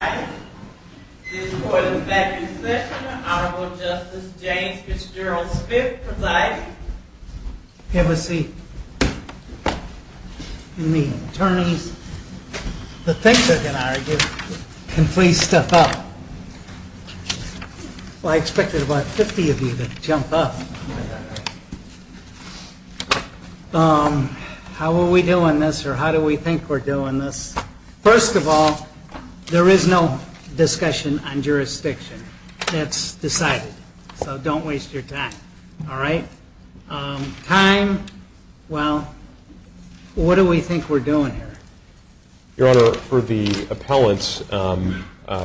This is for the second session of the Honorable Justice James Fitzgerald V. Prosecutor's Office. Have a seat. You need an attorney to think with an argument and please step up. I expected about 50 of you to jump up. How are we doing this or how do we think we're doing this? First of all, there is no discussion on jurisdiction. That's decided, so don't waste your time. All right? Time, well, what do we think we're doing here? Your Honor, for the appellants,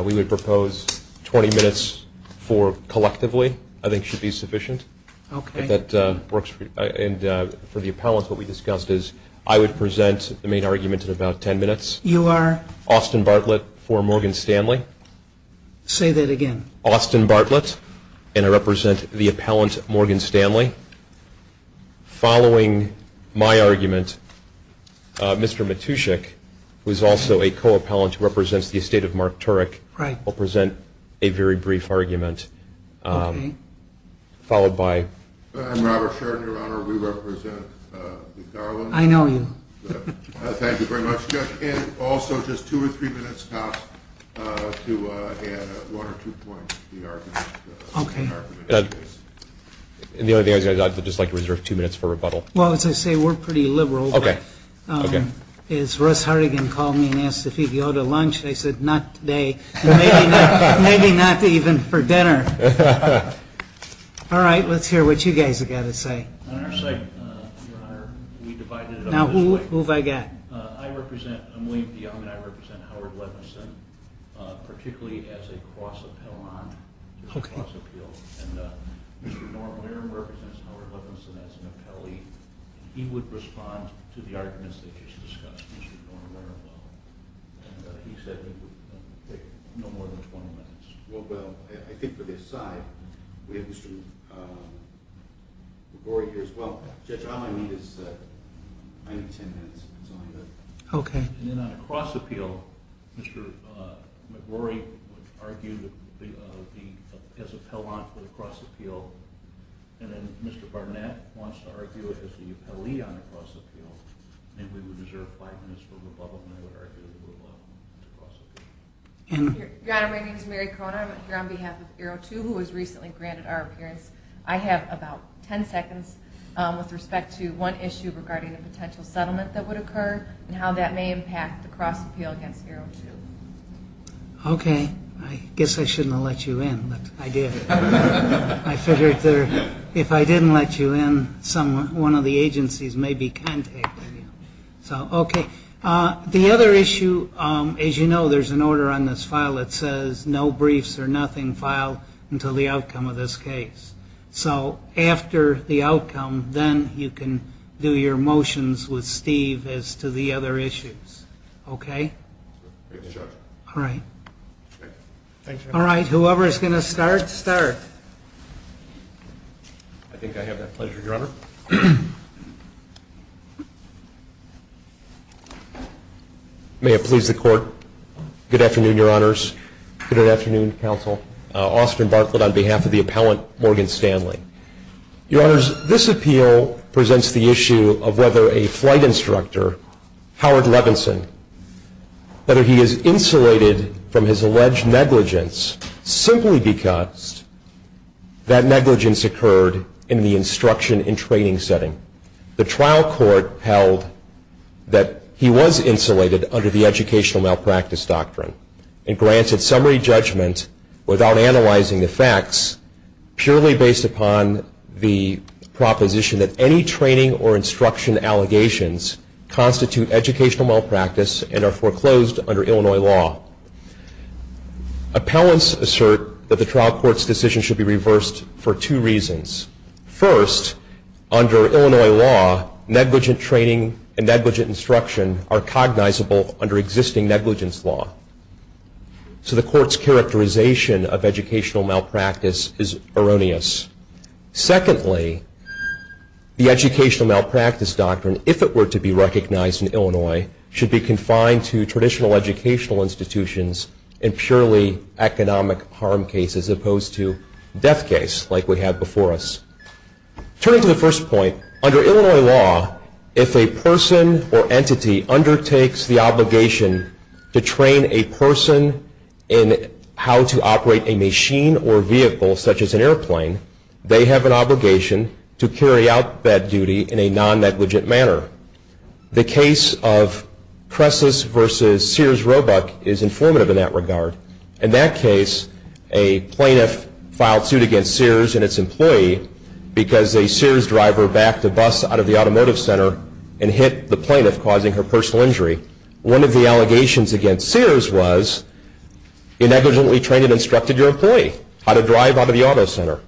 we would propose 20 minutes for collectively. I think it should be sufficient. Okay. For the appellants, what we discussed is I would present the main argument in about 10 minutes. You are? Austin Bartlett for Morgan Stanley. Say that again. Austin Bartlett and I represent the appellant Morgan Stanley. Following my argument, Mr. Matuschik, who is also a co-appellant who represents the estate of Mark Turek, Right. I'll present a very brief argument followed by. I'm Robert Sheridan, Your Honor. We represent the appellant. I know you. Thank you very much. Also, just two or three minutes to add one or two points to the argument. Okay. The only thing I would like to reserve two minutes for rebuttal. Well, as I say, we're pretty liberal. Okay. Okay. It's hard. You can call me and ask if you go to lunch. They said not. They may be not even for dinner. All right. Let's hear what you guys are going to say. Now, who have I got? I represent. I'm going beyond that. I represent Howard Levinson, particularly as a cross-appellant. Okay. Mr. Norenberg represents Howard Levinson as an appellee. He would respond to the arguments that you just discussed. He said no more than 20 minutes. Well, I think for this side, we have some more here as well. All I need is maybe 10 minutes. Okay. In a cross-appeal, Mr. Lavorie would argue that he is an appellant for the cross-appeal. And then Mr. Barnett wants to argue as the appellee on the cross-appeal. And we reserve five minutes for rebuttal. My name is Mary Kroner. I'm here on behalf of 02, who has recently granted our appearance. I have about 10 seconds with respect to one issue regarding a potential settlement that would occur and how that may impact the cross-appeal against 02. Okay. I guess I shouldn't have let you in, but I did. I figured if I didn't let you in, one of the agencies maybe can take the case. Okay. The other issue, as you know, there's an order on this file that says, no briefs or nothing filed until the outcome of this case. So after the outcome, then you can do your motions with Steve as to the other issues. Okay? All right. All right. Whoever is going to start, start. I think I have that pleasure, Your Honor. May it please the Court. Good afternoon, Your Honors. Good afternoon, Counsel. Austin Barclay on behalf of the appellant, Morgan Stanley. Your Honors, this appeal presents the issue of whether a flight instructor, Howard Levinson, whether he is insulated from his alleged negligence simply because that negligence occurred in the instruction and training setting. The trial court held that he was insulated under the educational malpractice doctrine and granted summary judgment without analyzing the facts purely based upon the proposition that any training or instruction allegations constitute educational malpractice and are foreclosed under Illinois law. Appellants assert that the trial court's decision should be reversed for two reasons. First, under Illinois law, negligent training and negligent instruction are cognizable under existing negligence law. So the court's characterization of educational malpractice is erroneous. Secondly, the educational malpractice doctrine, if it were to be recognized in Illinois, should be confined to traditional educational institutions and purely economic harm cases as opposed to death case like we had before us. Turning to the first point, under Illinois law, if a person or entity undertakes the obligation to train a person in how to operate a machine or vehicle such as an airplane, they have an obligation to carry out that duty in a non-negligent manner. The case of Cressus v. Sears Roebuck is informative in that regard. In that case, a plaintiff filed suit against Sears and its employee because a Sears driver backed the bus out of the automotive center and hit the plaintiff, causing her personal injury. One of the allegations against Sears was, you negligently trained and instructed your employee how to drive out of the auto center.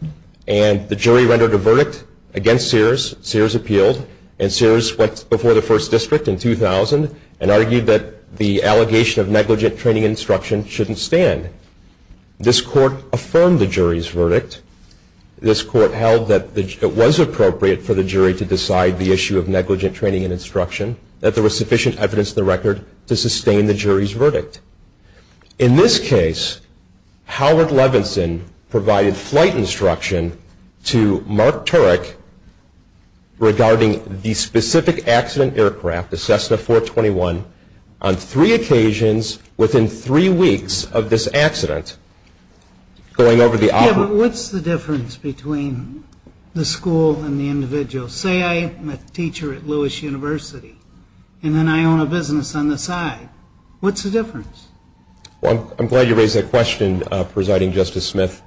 And the jury rendered a verdict against Sears. Sears appealed. And Sears went before the first district in 2000 and argued that the allegation of negligent training and instruction shouldn't stand. This court affirmed the jury's verdict. This court held that it was appropriate for the jury to decide the issue of negligent training and instruction, that there was sufficient evidence in the record to sustain the jury's verdict. In this case, Howard Levinson provided flight instruction to Mark Turek regarding the specific accident aircraft, the Cessna 421, on three occasions within three weeks of this accident going over the island. Yeah, but what's the difference between the school and the individual? Say I'm a teacher at Lewis University, and then I own a business on the side. What's the difference? Well, I'm glad you raised that question, Presiding Justice Smith.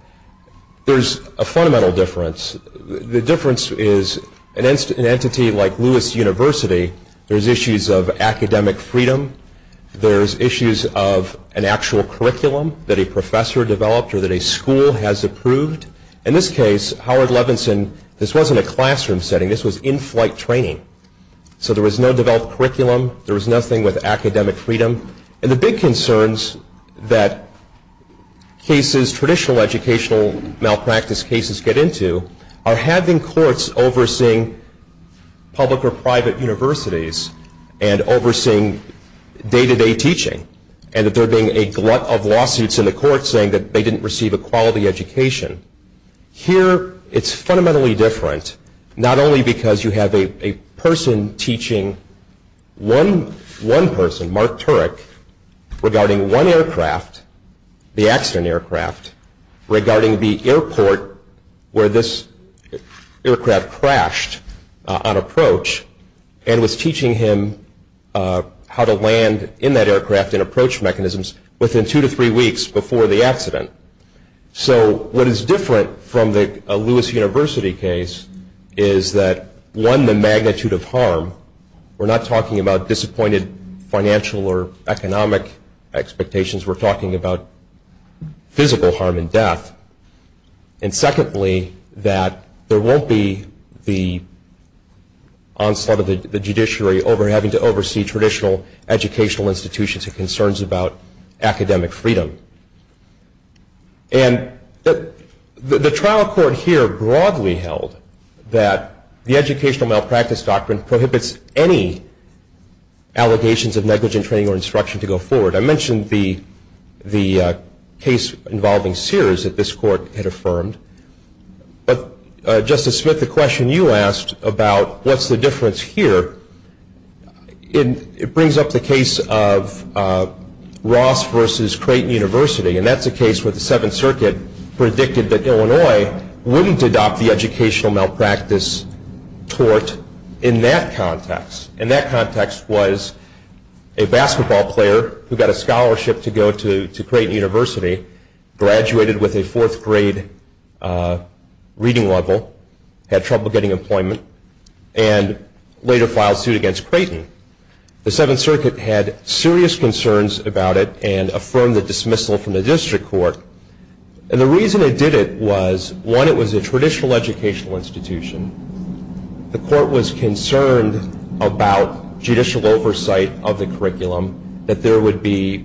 There's a fundamental difference. The difference is an entity like Lewis University, there's issues of academic freedom. There's issues of an actual curriculum that a professor developed or that a school has approved. In this case, Howard Levinson, this wasn't a classroom setting. This was in-flight training. So there was no developed curriculum. There was nothing with academic freedom. And the big concerns that cases, traditional educational malpractice cases, get into are having courts overseeing public or private universities and overseeing day-to-day teaching and there being a glut of lawsuits in the courts saying that they didn't receive a quality education. Here, it's fundamentally different, not only because you have a person teaching one person, Mark Turek, regarding one aircraft, the accident aircraft, regarding the airport where this aircraft crashed on approach and was teaching him how to land in that aircraft and approach mechanisms within two to three weeks before the accident. So what is different from a Lewis University case is that, one, the magnitude of harm. We're not talking about disappointed financial or economic expectations. We're talking about physical harm and death. And secondly, that there won't be the onslaught of the judiciary over having to oversee traditional educational institutions and concerns about academic freedom. And the trial court here broadly held that the educational malpractice doctrine prohibits any allegations of negligent training or instruction to go forward. I mentioned the case involving Sears that this court had affirmed. But, Justice Smith, the question you asked about what's the difference here, it brings up the case of Ross versus Creighton University. And that's a case where the Seventh Circuit predicted that Illinois wouldn't adopt the educational malpractice court in that context. And that context was a basketball player who got a scholarship to go to Creighton University, graduated with a fourth grade reading level, had trouble getting employment, and later filed suit against Creighton. The Seventh Circuit had serious concerns about it and affirmed the dismissal from the district court. And the reason it did it was, one, it was a traditional educational institution. The court was concerned about judicial oversight of the curriculum, that there would be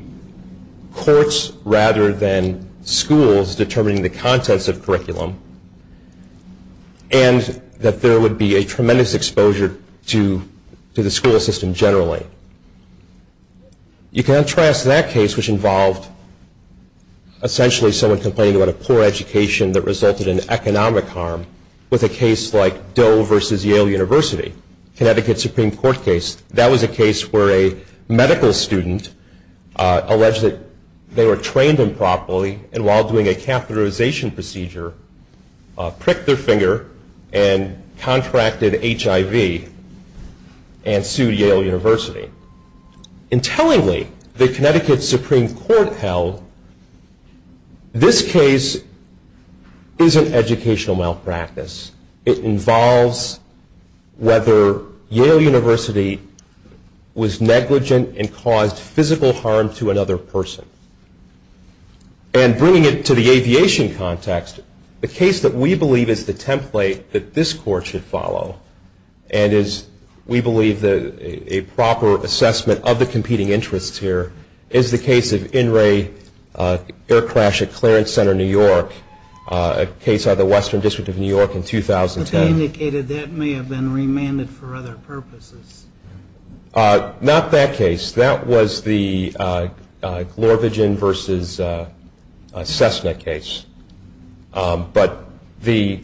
courts rather than schools determining the context of curriculum, and that there would be a tremendous exposure to the school system generally. You can contrast that case, which involved essentially someone complaining about a poor education that resulted in economic harm, with a case like Doe versus Yale University, Connecticut Supreme Court case. That was a case where a medical student alleged that they were trained improperly, and while doing a catheterization procedure, pricked their finger and contracted HIV and sued Yale University. Intelligently, the Connecticut Supreme Court held this case is an educational malpractice. It involves whether Yale University was negligent and caused physical harm to another person. And bringing it to the aviation context, the case that we believe is the template that this court should follow, and is, we believe, a proper assessment of the competing interests here, is the case of in-ray air crash at Clarence Center, New York, a case of the Western District of New York in 2007. You indicated that may have been remanded for other purposes. Not that case. That was the Glorvigin versus Cessna case. But the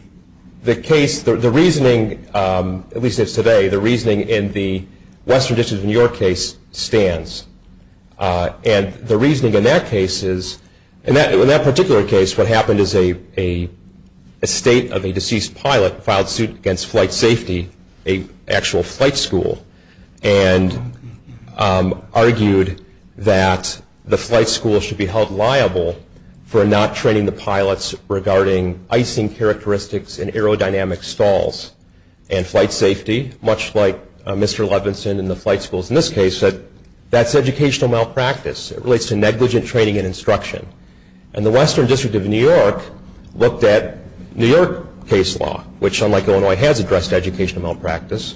case, the reasoning, at least as of today, the reasoning in the Western District of New York case stands. And the reasoning in that case is, in that particular case, what happened is a state of a deceased pilot filed suit against flight safety, an actual flight school, and argued that the flight school should be held liable for not training the pilots regarding icing characteristics and aerodynamic stalls. And flight safety, much like Mr. Levinson and the flight schools in this case, that's educational malpractice. It relates to negligent training and instruction. And the Western District of New York looked at New York case law, which, unlike Illinois, has addressed educational malpractice.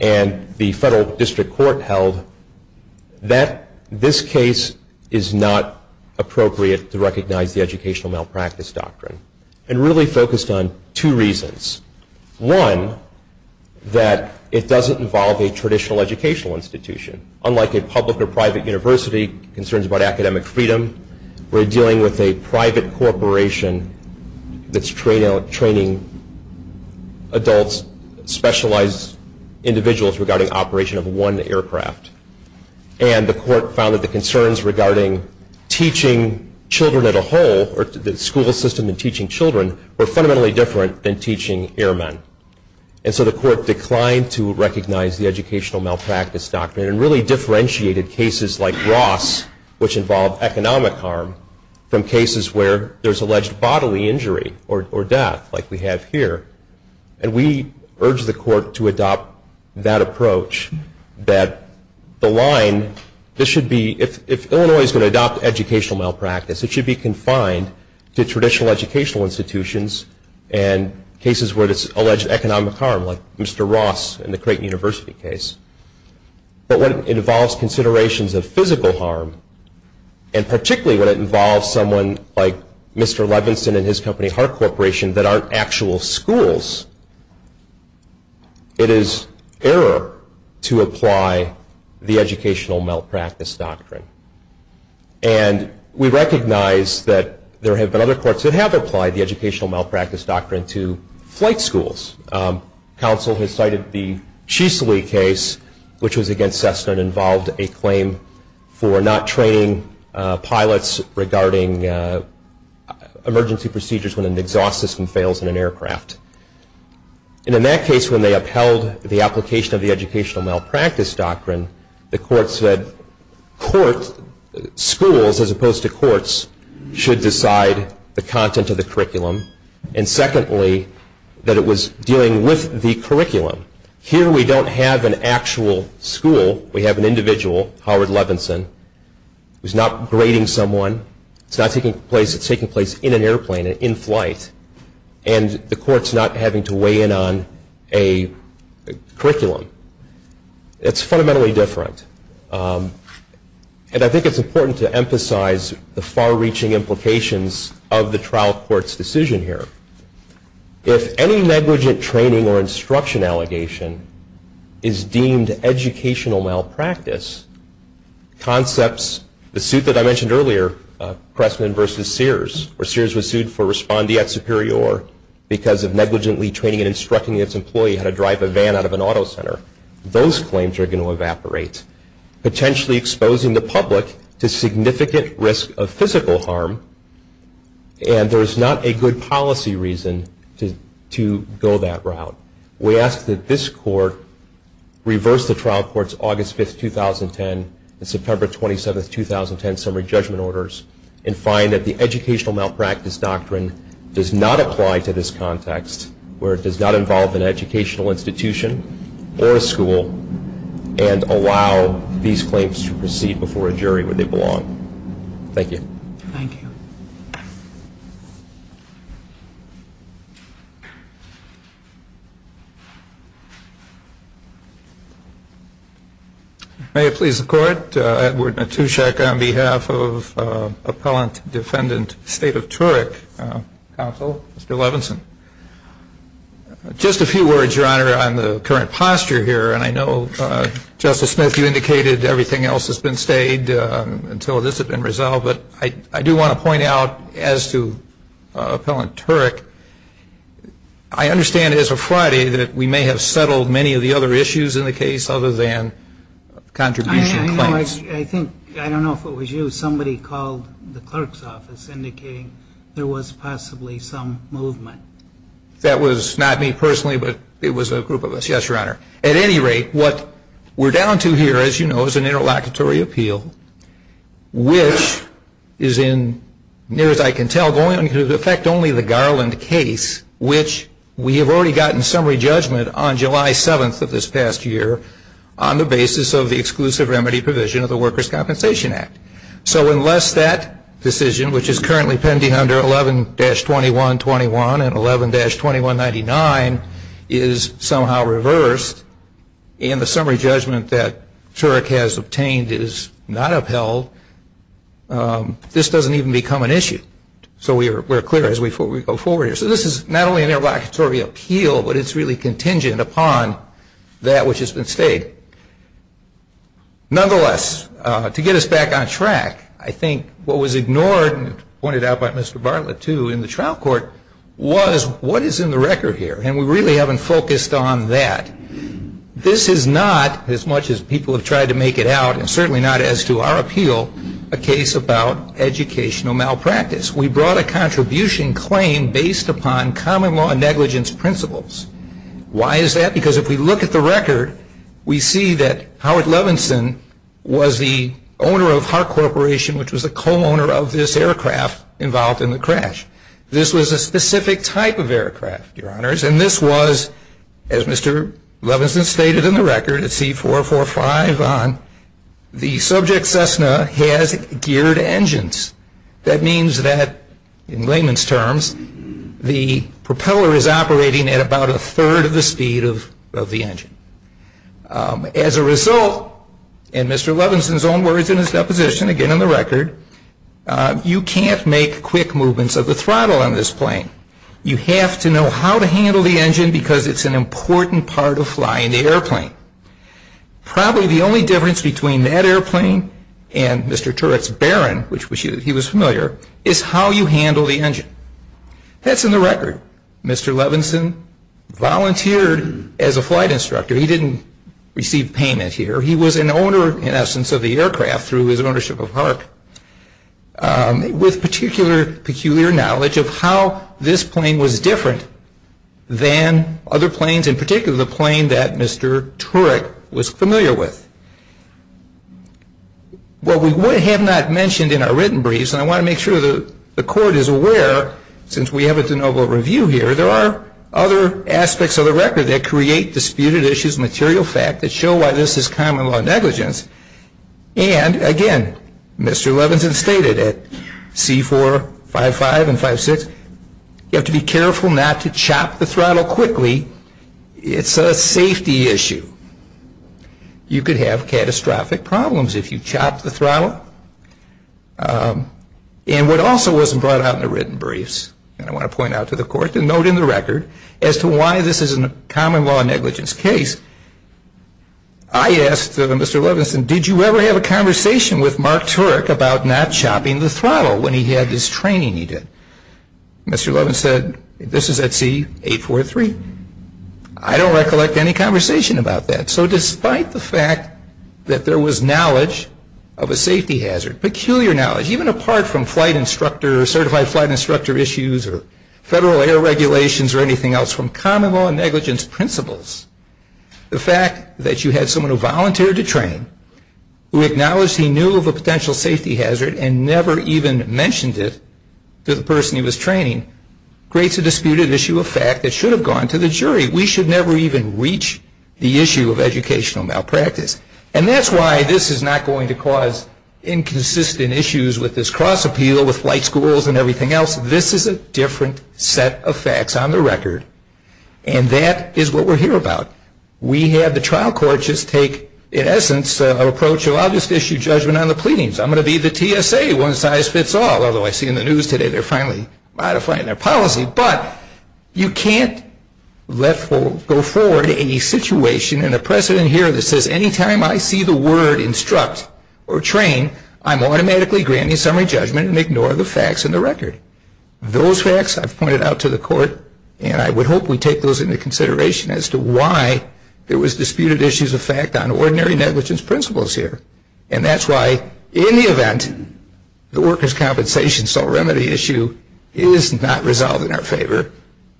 And the federal district court held that this case is not appropriate to recognize the educational malpractice doctrine. And really focused on two reasons. One, that it doesn't involve a traditional educational institution. Unlike a public or private university, concerns about academic freedom, we're dealing with a private corporation that's training adult specialized individuals regarding operation of one aircraft. And the court found that the concerns regarding teaching children as a whole, or the school system in teaching children, were fundamentally different than teaching airmen. And so the court declined to recognize the educational malpractice doctrine and really differentiated cases like Ross, which involved economic harm, from cases where there's alleged bodily injury or death, like we have here. And we urged the court to adopt that approach, that the line, this should be, if Illinois is going to adopt educational malpractice, it should be confined to traditional educational institutions and cases where there's alleged economic harm, like Mr. Ross in the Creighton University case. But when it involves considerations of physical harm, and particularly when it involves someone like Mr. Levinson and his company Hart Corporation, that aren't actual schools, it is error to apply the educational malpractice doctrine. And we recognize that there have been other courts that have applied the educational malpractice doctrine to flight schools. Counsel has cited the Chesley case, which was against Cessna, and involved a claim for not training pilots regarding emergency procedures when an exhaust system fails in an aircraft. And in that case, when they upheld the application of the educational malpractice doctrine, the court said schools, as opposed to courts, should decide the content of the curriculum. And secondly, that it was dealing with the curriculum. Here we don't have an actual school. We have an individual, Howard Levinson, who's not grading someone. It's taking place in an airplane, in flight. And the court's not having to weigh in on a curriculum. It's fundamentally different. And I think it's important to emphasize the far-reaching implications of the trial court's decision here. If any negligent training or instruction allegation is deemed educational malpractice, concepts, the suit that I mentioned earlier, Pressman v. Sears, where Sears was sued for respondeat superior because of negligently training and instructing its employee how to drive a van out of an auto center, those claims are going to evaporate, potentially exposing the public to significant risk of physical harm. And there is not a good policy reason to go that route. We ask that this court reverse the trial court's August 5, 2010, and September 27, 2010, summary judgment orders and find that the educational malpractice doctrine does not apply to this context where it does not involve an educational institution or a school and allow these claims to proceed before a jury where they belong. Thank you. Thank you. Thank you. May it please the Court, Edward Matuszek on behalf of Appellant Defendant State of Turok Counsel, Mr. Levinson. Just a few words, Your Honor, on the current posture here, and I know, Justice Smith, you indicated everything else has been stayed until this has been resolved, but I do want to point out as to Appellant Turok, I understand as of Friday that we may have settled many of the other issues in the case other than contributions. I think, I don't know if it was you, somebody called the clerk's office indicating there was possibly some movement. That was not me personally, but it was a group of us, yes, Your Honor. At any rate, what we're down to here, as you know, is an interlocutory appeal which is in, near as I can tell, going to affect only the Garland case, which we have already gotten summary judgment on July 7th of this past year on the basis of the exclusive remedy provision of the Workers' Compensation Act. So unless that decision, which is currently pending under 11-2121 and 11-2199, is somehow reversed and the summary judgment that Turok has obtained is not upheld, this doesn't even become an issue. So we're clear as we go forward here. So this is not only an interlocutory appeal, but it's really contingent upon that which has been stayed. Nonetheless, to get us back on track, I think what was ignored and pointed out by Mr. Bartlett too in the trial court was what is in the record here, and we really haven't focused on that. This is not, as much as people have tried to make it out, and certainly not as to our appeal, a case about educational malpractice. We brought a contribution claim based upon common law negligence principles. Why is that? Because if we look at the record, we see that Howard Levinson was the owner of Hart Corporation, which was a co-owner of this aircraft involved in the crash. This was a specific type of aircraft, Your Honors, and this was, as Mr. Levinson stated in the record at C-445 on, the subject Cessna has geared engines. That means that, in layman's terms, the propeller is operating at about a third of the speed of the engine. As a result, in Mr. Levinson's own words in his deposition, again in the record, you can't make quick movements of the throttle on this plane. You have to know how to handle the engine because it's an important part of flying the airplane. Probably the only difference between that airplane and Mr. Turret's Baron, which he was familiar, is how you handle the engine. That's in the record. Mr. Levinson volunteered as a flight instructor. He didn't receive payment here. He was an owner, in essence, of the aircraft through his ownership of Hart, with particular peculiar knowledge of how this plane was different than other planes, in particular the plane that Mr. Turret was familiar with. What we would have not mentioned in our written briefs, and I want to make sure the Court is aware, since we have a de novo review here, there are other aspects of the record that create disputed issues, material facts that show why this is common-law negligence. And, again, Mr. Levinson stated at C-4, 5-5, and 5-6, you have to be careful not to chop the throttle quickly. It's a safety issue. You could have catastrophic problems if you chop the throttle. And what also wasn't brought out in the written briefs, and I want to point out to the Court, just a note in the record, as to why this is a common-law negligence case, I asked Mr. Levinson, did you ever have a conversation with Mark Turret about not chopping the throttle when he had his training event? Mr. Levinson said, this is at C-843. I don't recollect any conversation about that. So despite the fact that there was knowledge of a safety hazard, peculiar knowledge, even apart from certified flight instructor issues or federal air regulations or anything else, from common-law negligence principles, the fact that you had someone who volunteered to train, who acknowledged he knew of a potential safety hazard and never even mentioned it to the person he was training, creates a disputed issue of fact that should have gone to the jury. We should never even reach the issue of educational malpractice. And that's why this is not going to cause inconsistent issues with this cross-appeal with flight schools and everything else. This is a different set of facts on the record, and that is what we're here about. We have the trial court just take, in essence, an approach of obvious issue judgment on the pleadings. I'm going to be the TSA, one size fits all, although I see in the news today they're finally modifying their policy. But you can't let go forward any situation in a precedent hearing that says any time I see the word instruct or train, I'm automatically granting summary judgment and ignore the facts on the record. Those facts I've pointed out to the court, and I would hope we take those into consideration as to why there was disputed issues of fact on ordinary negligence principles here. And that's why in the event the workers' compensation sole remedy issue is not resolved in our favor,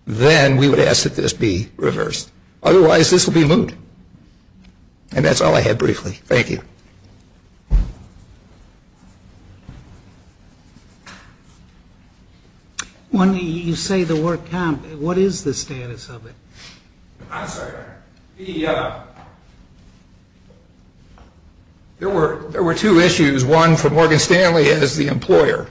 then we would ask that this be reversed. Otherwise, this would be moot. And that's all I had briefly. Thank you. When you say the word compensation, what is the status of it? I'm sorry. There were two issues, one for Morgan Stanley and as the employer.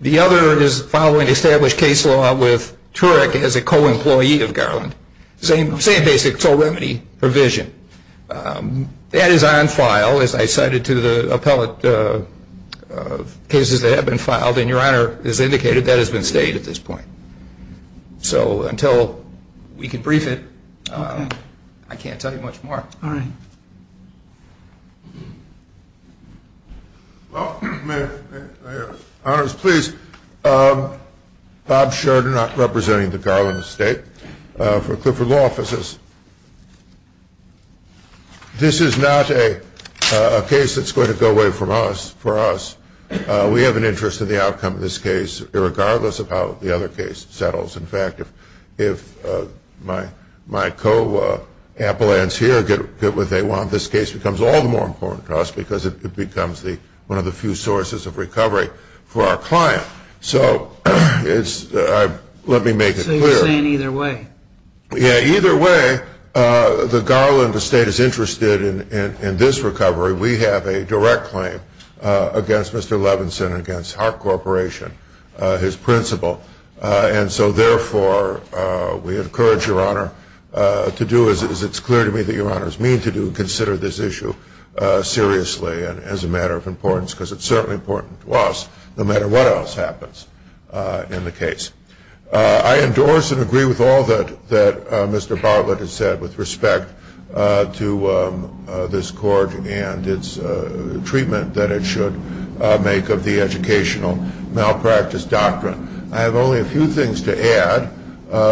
The other is following established case law with Turek as a co-employee of Garland. Same basic sole remedy provision. That is on file, as I cited to the appellate cases that have been filed, and, Your Honor, as indicated, that has been stated at this point. So until we can brief it, I can't tell you much more. Mayors, mayors, mayors, mayors, please. Bob Sheridan, I'm representing the Garland estate for a group of law officers. This is not a case that's going to go away from us, for us. We have an interest in the outcome of this case, regardless of how the other case settles. In fact, if my co-appellants here get what they want, this case becomes all the more important to us because it becomes one of the few sources of recovery for our client. So let me make it clear. So you're saying either way. Yeah, either way, the Garland estate is interested in this recovery. We have a direct claim against Mr. Levinson, against Hart Corporation, his principal. And so, therefore, we encourage, Your Honor, to do as it's clear to me that Your Honor is meaning to do, consider this issue seriously and as a matter of importance because it's certainly important to us, no matter what else happens in the case. I endorse and agree with all that Mr. Bartlett has said with respect to this court and its treatment that it should make of the educational malpractice doctrine. I have only a few things to add.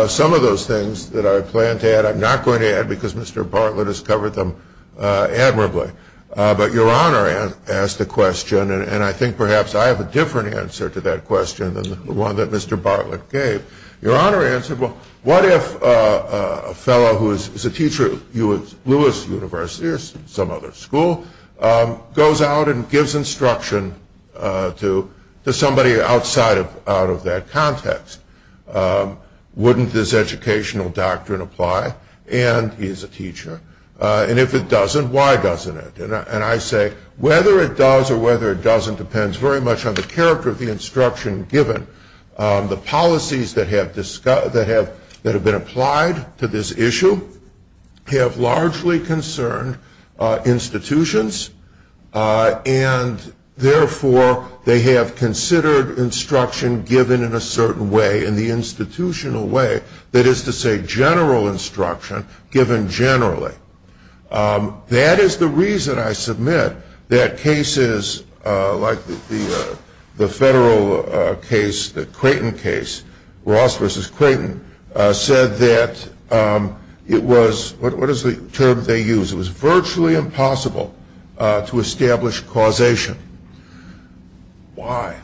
Some of those things that I plan to add I'm not going to add because Mr. Bartlett has covered them admirably. But Your Honor asked the question, and I think perhaps I have a different answer to that question than the one that Mr. Bartlett gave. Your Honor answered, well, what if a fellow who is a teacher at Lewis University or some other school goes out and gives instruction to somebody outside of that context? Wouldn't this educational doctrine apply? And he's a teacher. And if it doesn't, why doesn't it? And I say whether it does or whether it doesn't depends very much on the character of the instruction given. The policies that have been applied to this issue have largely concerned institutions, and therefore they have considered instruction given in a certain way, in the institutional way, that is to say general instruction given generally. That is the reason I submit that cases like the federal case, the Clayton case, Ross v. Clayton, said that it was, what is the term they used, it was virtually impossible to establish causation. Why?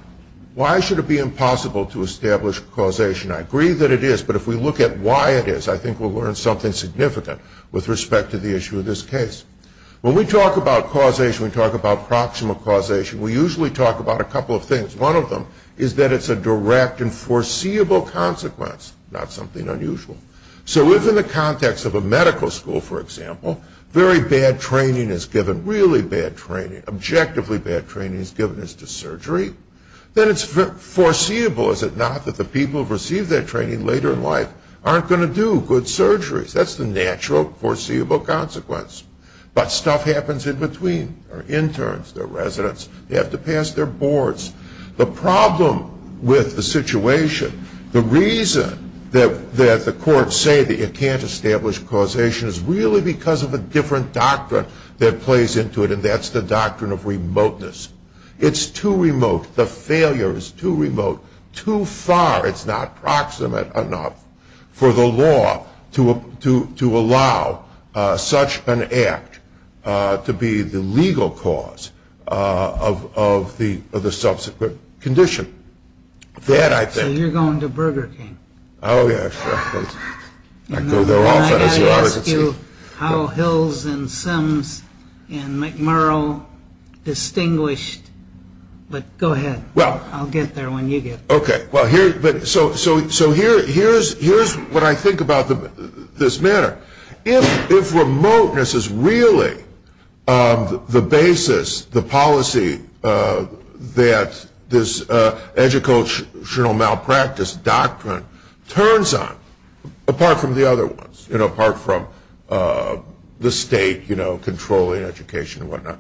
Why should it be impossible to establish causation? I agree that it is, but if we look at why it is, I think we'll learn something significant with respect to the issue of this case. When we talk about causation, we talk about proximal causation, we usually talk about a couple of things. One of them is that it's a direct and foreseeable consequence, not something unusual. So if in the context of a medical school, for example, very bad training is given, really bad training, objectively bad training is given as to surgery, then it's foreseeable, is it not, that the people who receive that training later in life aren't going to do good surgery. That's the natural foreseeable consequence. But stuff happens in between. They're interns, they're residents, they have to pass their boards. The problem with the situation, the reason that the courts say that you can't establish causation is really because of a different doctrine that plays into it, and that's the doctrine of remoteness. It's too remote, the failure is too remote, too far, it's not proximate enough, for the law to allow such an act to be the legal cause of the subsequent condition. So you're going to Burger King. Oh, yeah. I've got to ask you how Hills and Sons and McMurrow distinguished, but go ahead. I'll get there when you get there. Okay, so here's what I think about this matter. If remoteness is really the basis, the policy that this educational malpractice doctrine turns on, apart from the other ones, apart from the state controlling education and whatnot,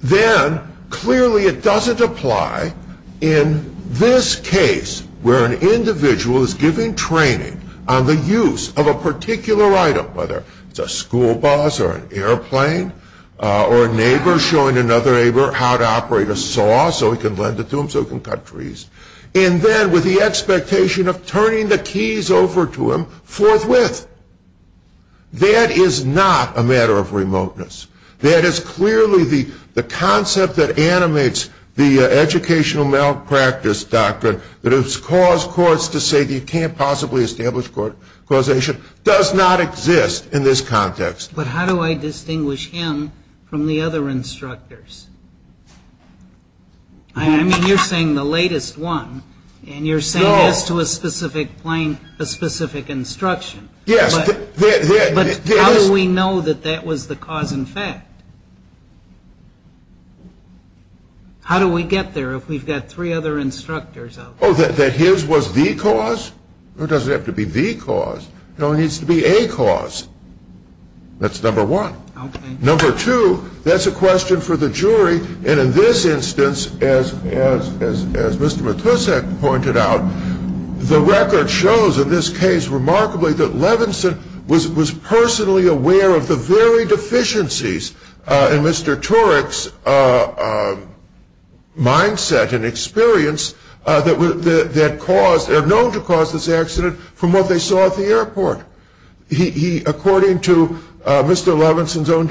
then clearly it doesn't apply in this case where an individual is giving training on the use of a particular item, whether it's a school bus or an airplane, or a neighbor showing another neighbor how to operate a saw so he can lend it to him so he can cut trees, and then with the expectation of turning the keys over to him, forthwith. That is not a matter of remoteness. That is clearly the concept that animates the educational malpractice doctrine, that it has caused courts to say you can't possibly establish causation, does not exist in this context. But how do I distinguish him from the other instructors? I mean, you're saying the latest one, and you're saying this was playing a specific instruction. Yes. But how do we know that that was the cause and effect? How do we get there if we've got three other instructors out there? Oh, that his was the cause? It doesn't have to be the cause. No, it needs to be a cause. That's number one. Number two, that's a question for the jury. And in this instance, as Mr. Matusek pointed out, the record shows in this case remarkably that Levinson was personally aware of the very deficiencies in Mr. Turek's mindset and experience that were known to cause this accident from what they saw at the airport. According to Mr. Levinson's own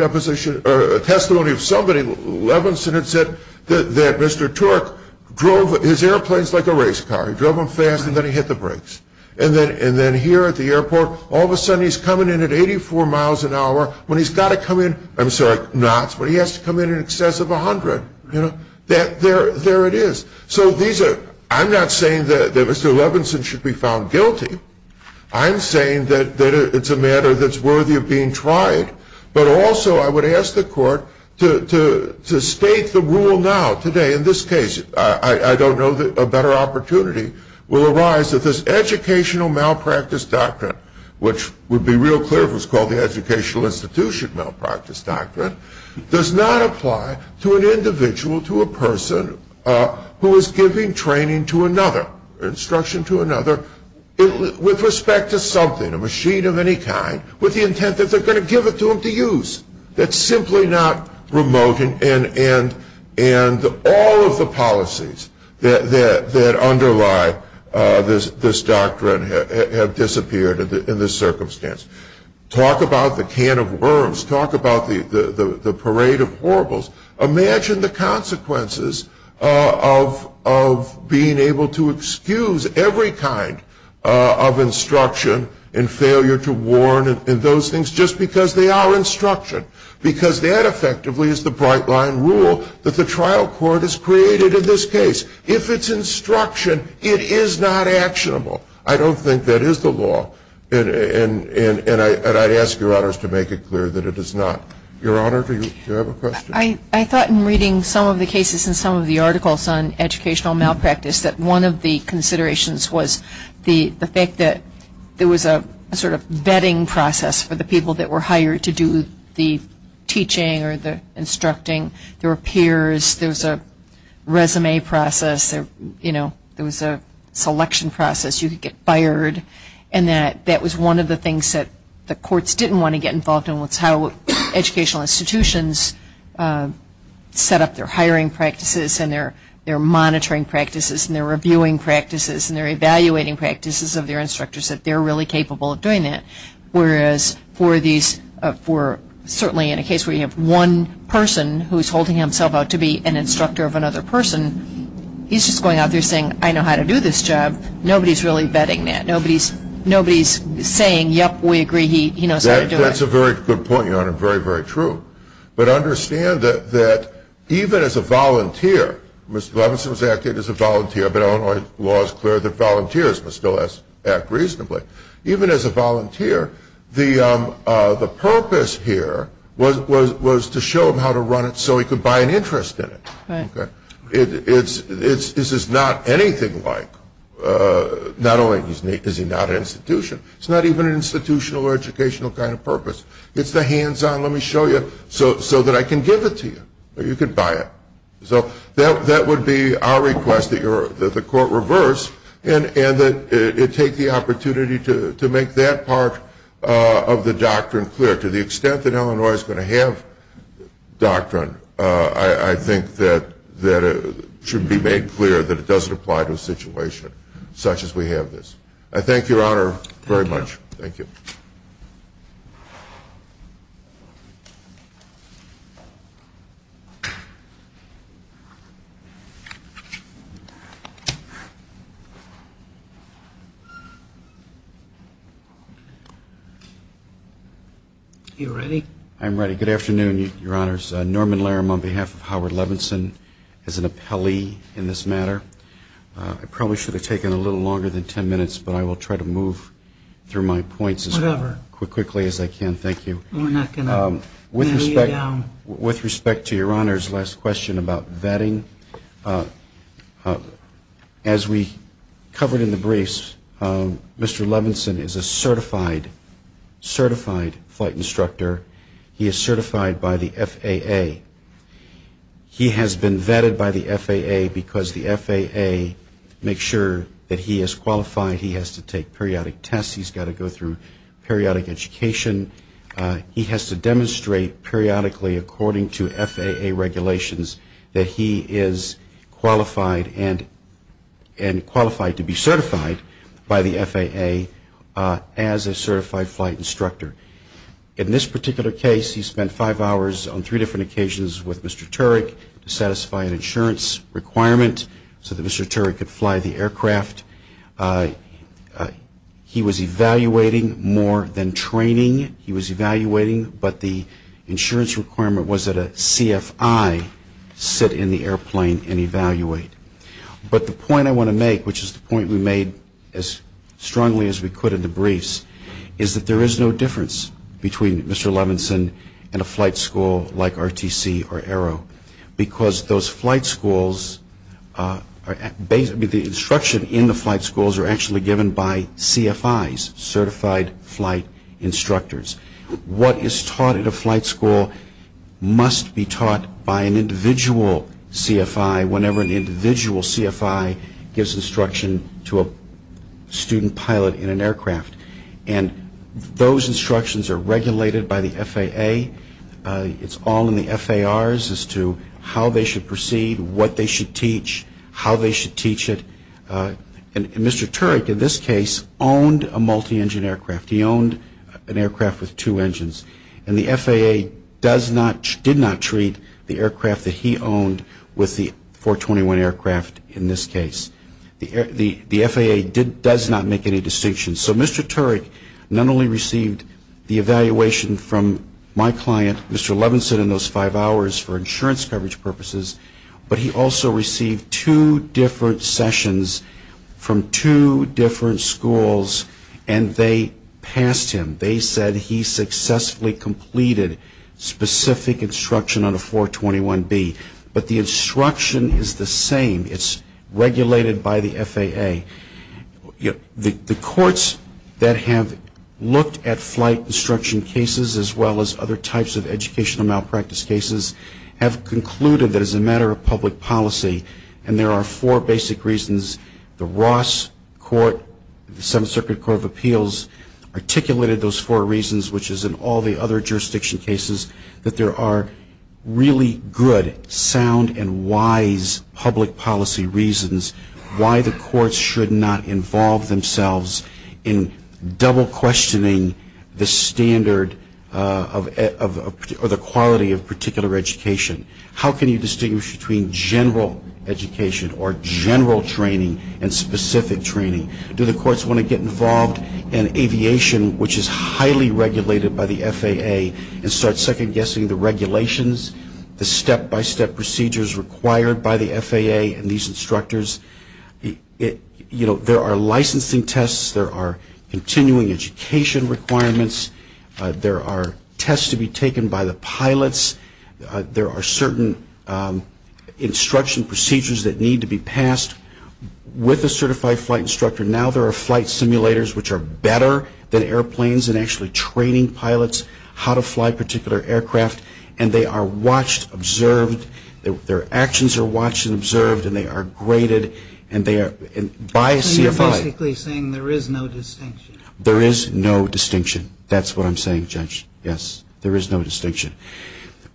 testimony of somebody, Levinson had said that Mr. Turek drove his airplanes like a race car. He drove them fast, and then he hit the brakes. And then here at the airport, all of a sudden he's coming in at 84 miles an hour when he's got to come in, I'm sorry, not when he has to come in in excess of 100. There it is. So I'm not saying that Mr. Levinson should be found guilty. I'm saying that it's a matter that's worthy of being tried. But also I would ask the court to state the rule now, today, in this case. I don't know that a better opportunity will arise that this educational malpractice doctrine, which would be real clear if it was called the educational institution malpractice doctrine, does not apply to an individual, to a person who is giving training to another, instruction to another, with respect to something, a machine of any kind, with the intent that they're going to give it to them to use. That's simply not remote. And all of the policies that underlie this doctrine have disappeared in this circumstance. Talk about the can of worms. Talk about the parade of horribles. Imagine the consequences of being able to excuse every kind of instruction and failure to warn and those things just because they are instruction. Because that effectively is the bright line rule that the trial court has created in this case. If it's instruction, it is not actionable. I don't think that is the law. And I ask your honors to make it clear that it is not. Your honor, do you have a question? I thought in reading some of the cases and some of the articles on educational malpractice that one of the considerations was the fact that there was a sort of vetting process for the people that were hired to do the teaching or the instructing. There were peers. There was a resume process. There was a selection process. You could get fired. And that was one of the things that the courts didn't want to get involved in was how educational institutions set up their hiring practices and their monitoring practices and their reviewing practices and their evaluating practices of their instructors, that they're really capable of doing that. Whereas for these, for certainly in a case where you have one person who is holding himself out to be an instructor of another person, he's just going out there saying, I know how to do this job. Nobody is really vetting that. Nobody is saying, yep, we agree, he knows how to do it. That's a very good point, your honor, very, very true. But understand that even as a volunteer, Mr. Levenson is acting as a volunteer, but Illinois law is clear that volunteers must still act reasonably. Even as a volunteer, the purpose here was to show him how to run it so he could buy an interest in it. This is not anything like, not only is he not an institution, it's not even an institutional or educational kind of purpose. It's the hands-on, let me show you, so that I can give it to you, or you can buy it. So that would be our request that the court reverse, and that it take the opportunity to make that part of the doctrine clear. To the extent that Illinois is going to have doctrine, I think that it should be made clear that it doesn't apply to a situation such as we have this. I thank you, your honor, very much. Thank you. Are you ready? I'm ready. Good afternoon, your honors. Norman Larum, on behalf of Howard Levenson, is an appellee in this matter. I probably should have taken a little longer than ten minutes, but I will try to move through my points as quickly as I can. Thank you. We're not going to let you down. With respect to your honor's last question about vetting, as we covered in the briefs, Mr. Levenson is a certified flight instructor. He is certified by the FAA. He has been vetted by the FAA because the FAA makes sure that he is qualified. He has to take periodic tests. He's got to go through periodic education. He has to demonstrate periodically, according to FAA regulations, that he is qualified to be certified by the FAA as a certified flight instructor. In this particular case, he spent five hours on three different occasions with Mr. Turek to satisfy an insurance requirement so that Mr. Turek could fly the aircraft. He was evaluating more than training. He was evaluating, but the insurance requirement was that a CFI sit in the airplane and evaluate. But the point I want to make, which is the point we made as strongly as we could in the briefs, is that there is no difference between Mr. Levenson and a flight school like RTC or Aero, because the instruction in the flight schools are actually given by CFIs, certified flight instructors. What is taught at a flight school must be taught by an individual CFI whenever an individual CFI gives instruction to a student pilot in an aircraft. Those instructions are regulated by the FAA. It's all in the FARs as to how they should proceed, what they should teach, how they should teach it. Mr. Turek, in this case, owned a multi-engine aircraft. He owned an aircraft with two engines, and the FAA did not treat the aircraft that he owned with the 421 aircraft in this case. The FAA does not make any distinctions. So Mr. Turek not only received the evaluation from my client, Mr. Levenson, in those five hours for insurance coverage purposes, but he also received two different sessions from two different schools, and they passed him. They said he successfully completed specific instruction on a 421B. But the instruction is the same. It's regulated by the FAA. The courts that have looked at flight instruction cases as well as other types of educational malpractice cases have concluded that as a matter of public policy, and there are four basic reasons, the Ross Court, the Seventh Circuit Court of Appeals, articulated those four reasons, which is in all the other jurisdiction cases, that there are really good, sound, and wise public policy reasons why the courts should not involve themselves in double-questioning the standard or the quality of particular education. How can you distinguish between general education or general training and specific training? Do the courts want to get involved in aviation, which is highly regulated by the FAA, and start second-guessing the regulations, the step-by-step procedures required by the FAA and these instructors? You know, there are licensing tests. There are continuing education requirements. There are tests to be taken by the pilots. There are certain instruction procedures that need to be passed with a certified flight instructor. Now there are flight simulators, which are better than airplanes, and actually training pilots how to fly particular aircraft, and they are watched, observed, their actions are watched and observed, and they are graded by a CFI. So you're basically saying there is no distinction. There is no distinction. That's what I'm saying, Judge, yes. There is no distinction.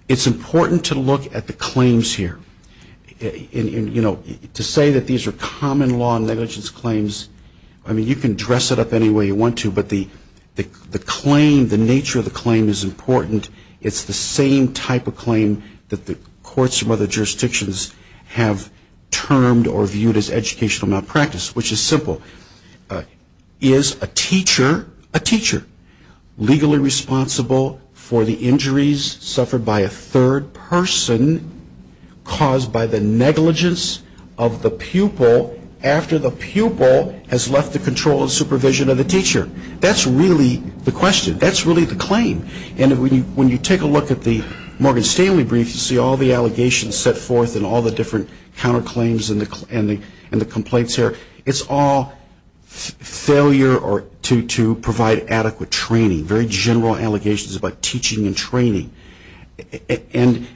It's important to look at the claims here. You know, to say that these are common law negligence claims, I mean, you can dress it up any way you want to, but the claim, the nature of the claim is important. It's the same type of claim that the courts of other jurisdictions have termed or viewed as educational malpractice, which is simple. Is a teacher legally responsible for the injuries suffered by a third person caused by the negligence of the pupil after the pupil has left the control and supervision of the teacher? That's really the question. That's really the claim. And when you take a look at the Morgan Stanley brief, you see all the allegations set forth and all the different counterclaims and the complaints here. It's all failure to provide adequate training, very general allegations about teaching and training. And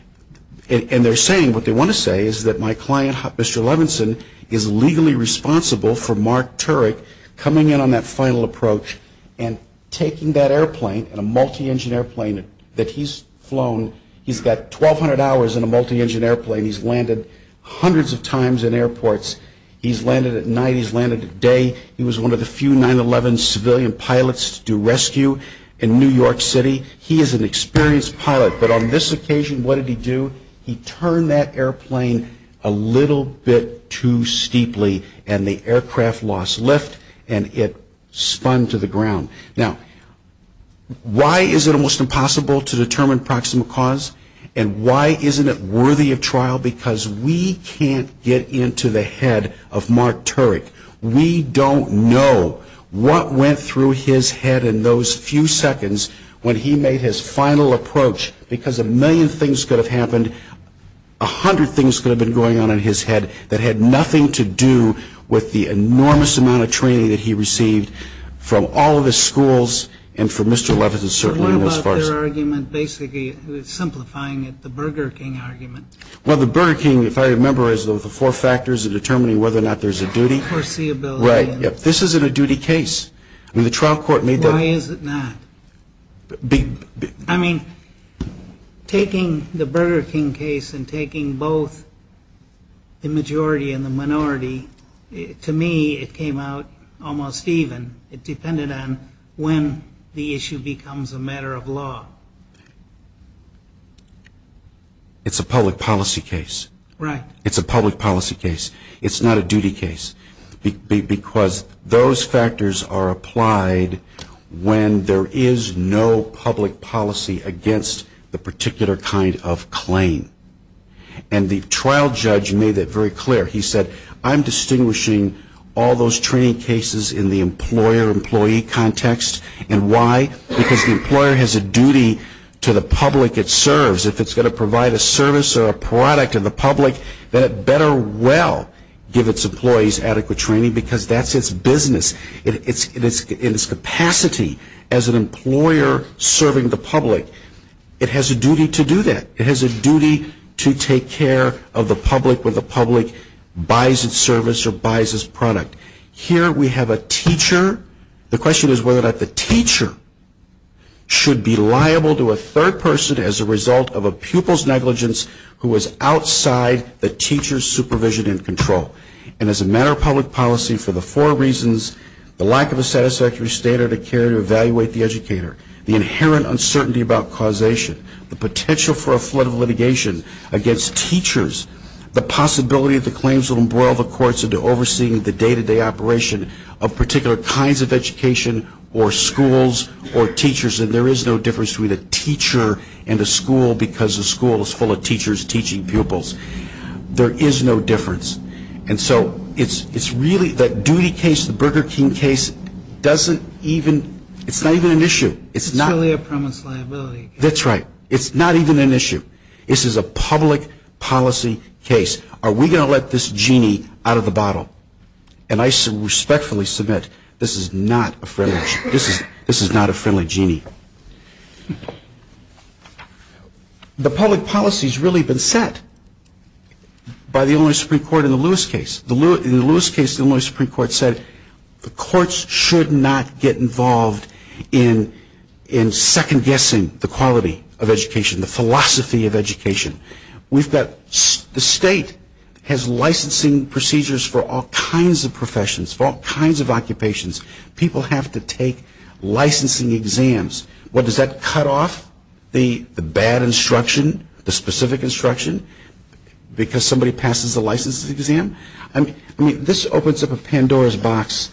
they're saying, what they want to say is that my client, Mr. Levinson, is legally responsible for Mark Turek coming in on that final approach and taking that airplane, a multi-engine airplane that he's flown. He's got 1,200 hours in a multi-engine airplane. He's landed hundreds of times in airports. He's landed at night. He's landed at day. He was one of the few 9-11 civilian pilots to do rescue in New York City. He is an experienced pilot. But on this occasion, what did he do? He turned that airplane a little bit too steeply, and the aircraft lost lift, and it spun to the ground. Now, why is it almost impossible to determine proximate cause? And why isn't it worthy of trial? Because we can't get into the head of Mark Turek. We don't know what went through his head in those few seconds when he made his final approach because a million things could have happened, a hundred things could have been going on in his head that had nothing to do with the enormous amount of training that he received from all of his schools and from Mr. Levitin, certainly, in those parts. What about their argument, basically, simplifying it, the Burger King argument? Well, the Burger King, if I remember, has the four factors of determining whether or not there's a duty. Foreseeability. Right. This isn't a duty case. I mean, the trial court made that. Why is it not? I mean, taking the Burger King case and taking both the majority and the minority, to me it came out almost even. It depended on when the issue becomes a matter of law. It's a public policy case. Right. It's a public policy case. It's not a duty case because those factors are applied when there is no public policy against the particular kind of claim. And the trial judge made that very clear. He said, I'm distinguishing all those training cases in the employer-employee context. And why? Because the employer has a duty to the public it serves. Because if it's going to provide a service or a product to the public, then it better well give its employees adequate training because that's its business. In its capacity as an employer serving the public, it has a duty to do that. It has a duty to take care of the public when the public buys its service or buys its product. Here we have a teacher. The question is whether or not the teacher should be liable to a third person as a result of a pupil's negligence who is outside the teacher's supervision and control. And as a matter of public policy, for the four reasons, the lack of a satisfactory standard of care to evaluate the educator, the inherent uncertainty about causation, the potential for a flood of litigation against teachers, the possibility that the claims will embroil the courts into overseeing the day-to-day operation of particular kinds of education or schools or teachers, and there is no difference between a teacher and a school because a school is full of teachers teaching pupils. There is no difference. And so it's really that duty case, the Burger King case, doesn't even, it's not even an issue. It's purely a premise liability. That's right. It's not even an issue. This is a public policy case. Are we going to let this genie out of the bottle? And I respectfully submit this is not a friendly issue. This is not a friendly genie. The public policy has really been set by the Illinois Supreme Court in the Lewis case. In the Lewis case, the Illinois Supreme Court said the courts should not get involved in second-guessing the quality of education, the philosophy of education. We've got, the state has licensing procedures for all kinds of professions, for all kinds of occupations. People have to take licensing exams. Well, does that cut off the bad instruction, the specific instruction, because somebody passes the licensing exam? I mean, this opens up a Pandora's box,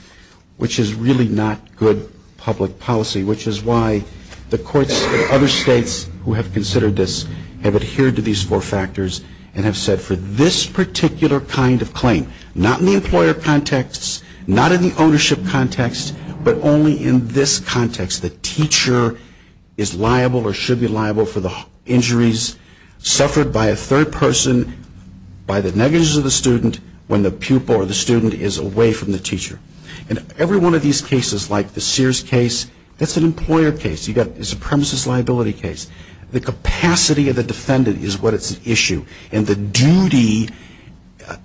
which is really not good public policy, which is why the courts in other states who have considered this have adhered to these four factors and have said for this particular kind of claim, not in the employer context, not in the ownership context, but only in this context, the teacher is liable or should be liable for the injuries suffered by a third person, by the negligence of the student, when the pupil or the student is away from the teacher. In every one of these cases, like the Sears case, that's an employer case. You've got the supremacist liability case. The capacity of the defendant is what is an issue, and the duty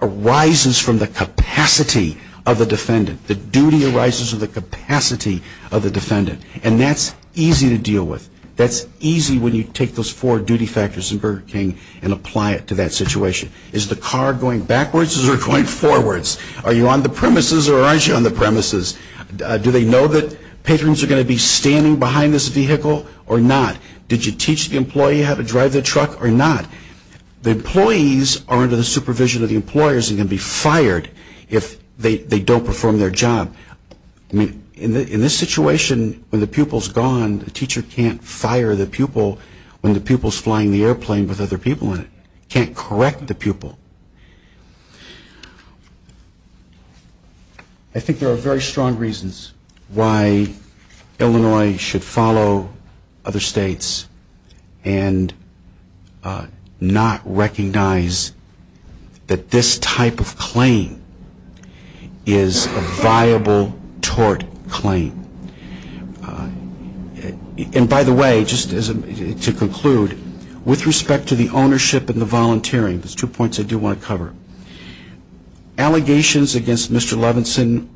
arises from the capacity of the defendant. The duty arises from the capacity of the defendant, and that's easy to deal with. That's easy when you take those four duty factors in Burger King and apply it to that situation. Is the car going backwards or going forwards? Are you on the premises or aren't you on the premises? Do they know that patrons are going to be standing behind this vehicle or not? Did you teach the employee how to drive the truck or not? The employees are under the supervision of the employers and can be fired if they don't perform their job. In this situation, when the pupil is gone, the teacher can't fire the pupil when the pupil is flying the airplane with other people in it. He can't correct the pupil. I think there are very strong reasons why Illinois should follow other states and not recognize that this type of claim is a viable tort claim. By the way, just to conclude, with respect to the ownership and the volunteering, there's two points I do want to cover. Allegations against Mr. Levinson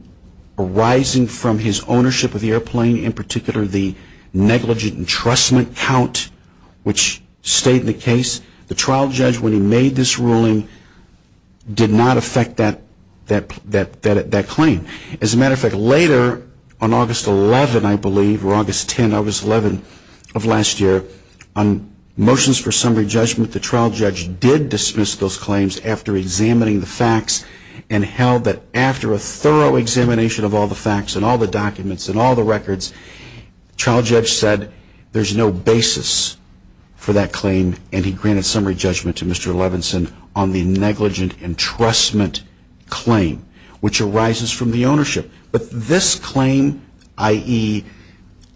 arising from his ownership of the airplane, including in particular the negligent entrustment count, which stayed the case. The trial judge, when he made this ruling, did not affect that claim. As a matter of fact, later on August 11th, I believe, or August 10th, August 11th of last year, on motions for summary judgment, the trial judge did dismiss those claims after examining the facts and held that after a thorough examination of all the facts and all the documents and all the records, the trial judge said there's no basis for that claim, and he granted summary judgment to Mr. Levinson on the negligent entrustment claim, which arises from the ownership. But this claim, i.e.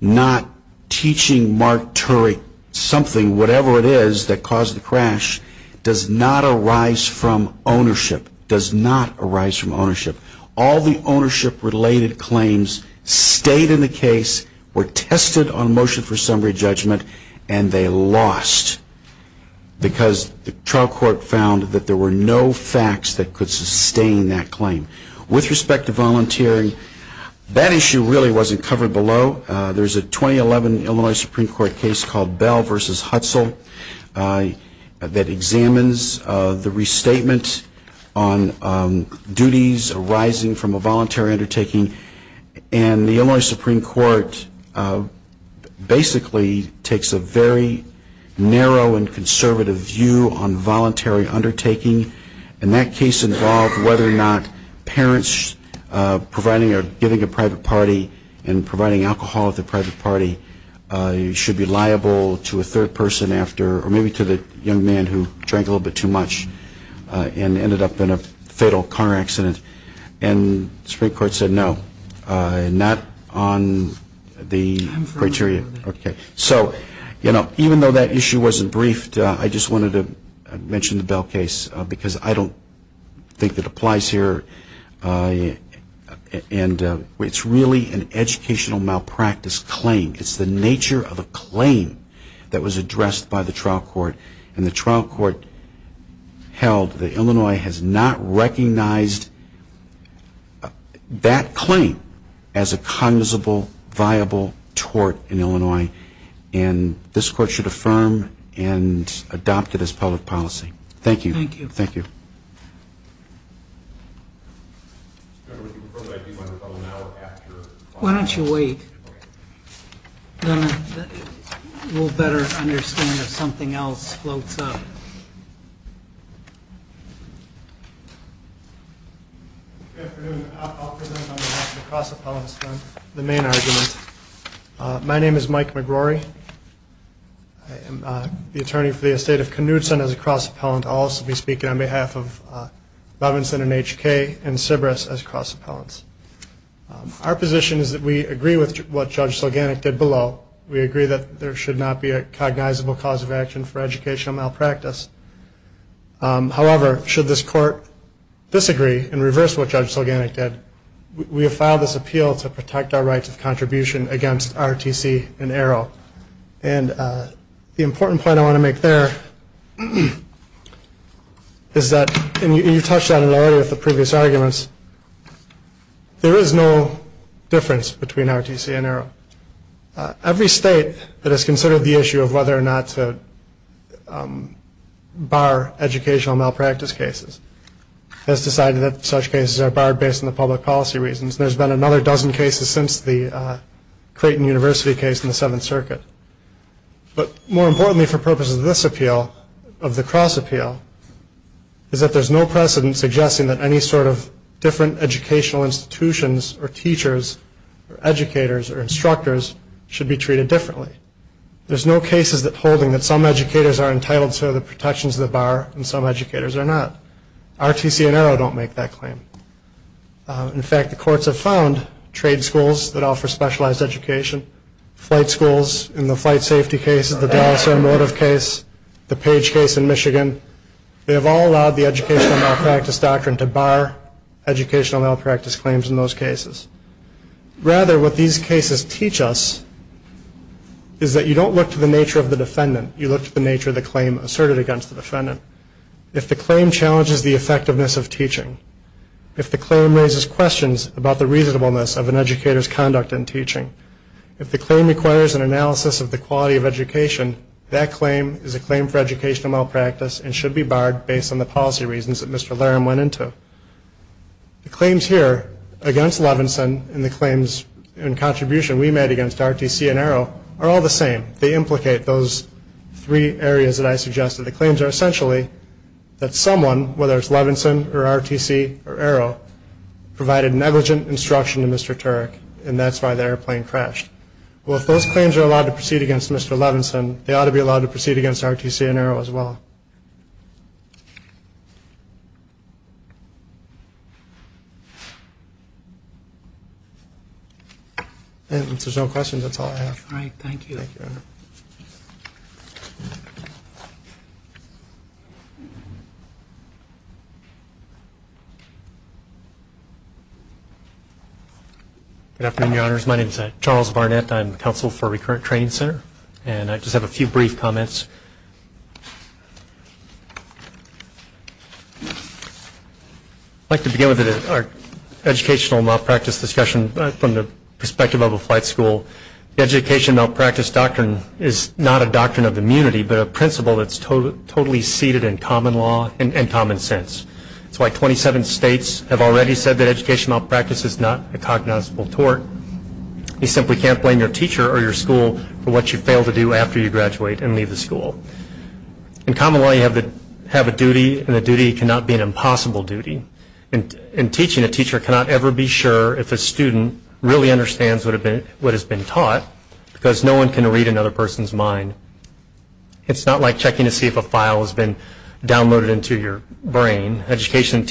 not teaching Mark Turek something, whatever it is, that caused the crash, does not arise from ownership, does not arise from ownership. All the ownership-related claims stayed in the case, were tested on motion for summary judgment, and they lost because the trial court found that there were no facts that could sustain that claim. With respect to volunteering, that issue really wasn't covered below. There's a 2011 Illinois Supreme Court case called Bell v. Hudson that examines the restatement on duties arising from a voluntary undertaking, and the Illinois Supreme Court basically takes a very narrow and conservative view on voluntary undertaking. And that case involved whether or not parents providing or giving a private party and providing alcohol to a private party should be liable to a third person after, or maybe to the young man who drank a little bit too much and ended up in a fatal car accident. And the Supreme Court said no, not on the criteria. So even though that issue wasn't briefed, I just wanted to mention the Bell case because I don't think it applies here. It's really an educational malpractice claim. It's the nature of a claim that was addressed by the trial court, and the trial court held that Illinois has not recognized that claim as a conducible, viable tort in Illinois, and this court should affirm and adopt it as public policy. Thank you. Thank you. Why don't you wait? Then we'll better understand if something else floats up. Good afternoon. I'll present on behalf of the cross-appellants the main argument. My name is Mike McGorry. I am the attorney for the estate of Knudson as a cross-appellant. I'll also be speaking on behalf of Robinson and HK and Sybris as cross-appellants. Our position is that we agree with what Judge Selganic did below. We agree that there should not be a cognizable cause of action for educational malpractice. However, should this court disagree and reverse what Judge Selganic did, we have filed this appeal to protect our rights of contribution against RTC and Arrow. And the important point I want to make there is that, and you touched on it already with the previous arguments, there is no difference between RTC and Arrow. Every state that has considered the issue of whether or not to bar educational malpractice cases has decided that such cases are barred based on the public policy reasons. There's been another dozen cases since the Creighton University case in the Seventh Circuit. But more importantly for purposes of this appeal, of the cross-appeal, is that there's no precedent suggesting that any sort of different educational institutions or teachers or educators or instructors should be treated differently. There's no cases holding that some educators are entitled to the protections of the bar and some educators are not. RTC and Arrow don't make that claim. In fact, the courts have found trade schools that offer specialized education, flight schools in the flight safety case, the Baltimore motive case, the Page case in Michigan, they have all allowed the educational malpractice doctrine to bar educational malpractice claims in those cases. Rather, what these cases teach us is that you don't look to the nature of the defendant. You look to the nature of the claim asserted against the defendant. If the claim challenges the effectiveness of teaching, if the claim raises questions about the reasonableness of an educator's conduct in teaching, if the claim requires an analysis of the quality of education, that claim is a claim for educational malpractice and should be barred based on the policy reasons that Mr. Larum went into. The claims here against Levinson and the claims in contribution we made against RTC and Arrow are all the same. They implicate those three areas that I suggested. The claims are essentially that someone, whether it's Levinson or RTC or Arrow, provided negligent instruction to Mr. Turek and that's why the airplane crashed. Well, if those claims are allowed to proceed against Mr. Levinson, they ought to be allowed to proceed against RTC and Arrow as well. And if there's no questions, that's all I have. All right. Thank you. Thank you, Your Honor. Good afternoon, Your Honors. My name is Charles Barnett. I'm counsel for Recurrent Training Center and I just have a few brief comments. I'd like to begin with our educational malpractice discussion from the perspective of a flight school. The education malpractice doctrine is not a doctrine of immunity, but a principle that's totally seated in common law and common sense. That's why 27 states have already said that educational malpractice is not a cognizable tort. You simply can't blame your teacher or your school for what you fail to do after you graduate and leave the school. In common law, you have a duty and the duty cannot be an impossible duty. In teaching, a teacher cannot ever be sure if a student really understands what has been taught because no one can read another person's mind. It's not like checking to see if a file has been downloaded into your brain. A teacher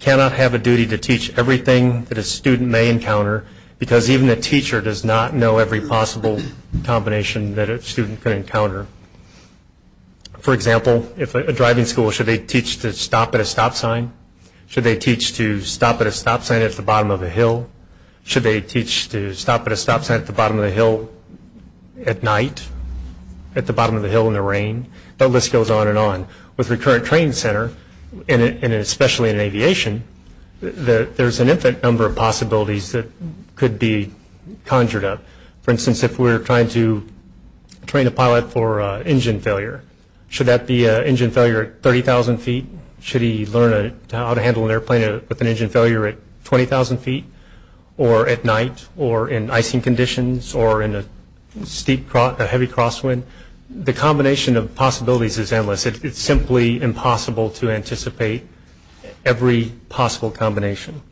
cannot have a duty to teach everything that a student may encounter because even a teacher does not know every possible combination that a student could encounter. For example, if a driving school, should they teach to stop at a stop sign? Should they teach to stop at a stop sign at the bottom of a hill? Should they teach to stop at a stop sign at the bottom of a hill at night? At the bottom of a hill in the rain? That list goes on and on. With the current training center, and especially in aviation, there's an infinite number of possibilities that could be conjured up. For instance, if we're trying to train a pilot for engine failure, should that be an engine failure at 30,000 feet? Should he learn how to handle an airplane with an engine failure at 20,000 feet or at night or in icing conditions or in a steep, heavy crosswind? The combination of possibilities is endless. It's simply impossible to anticipate every possible combination.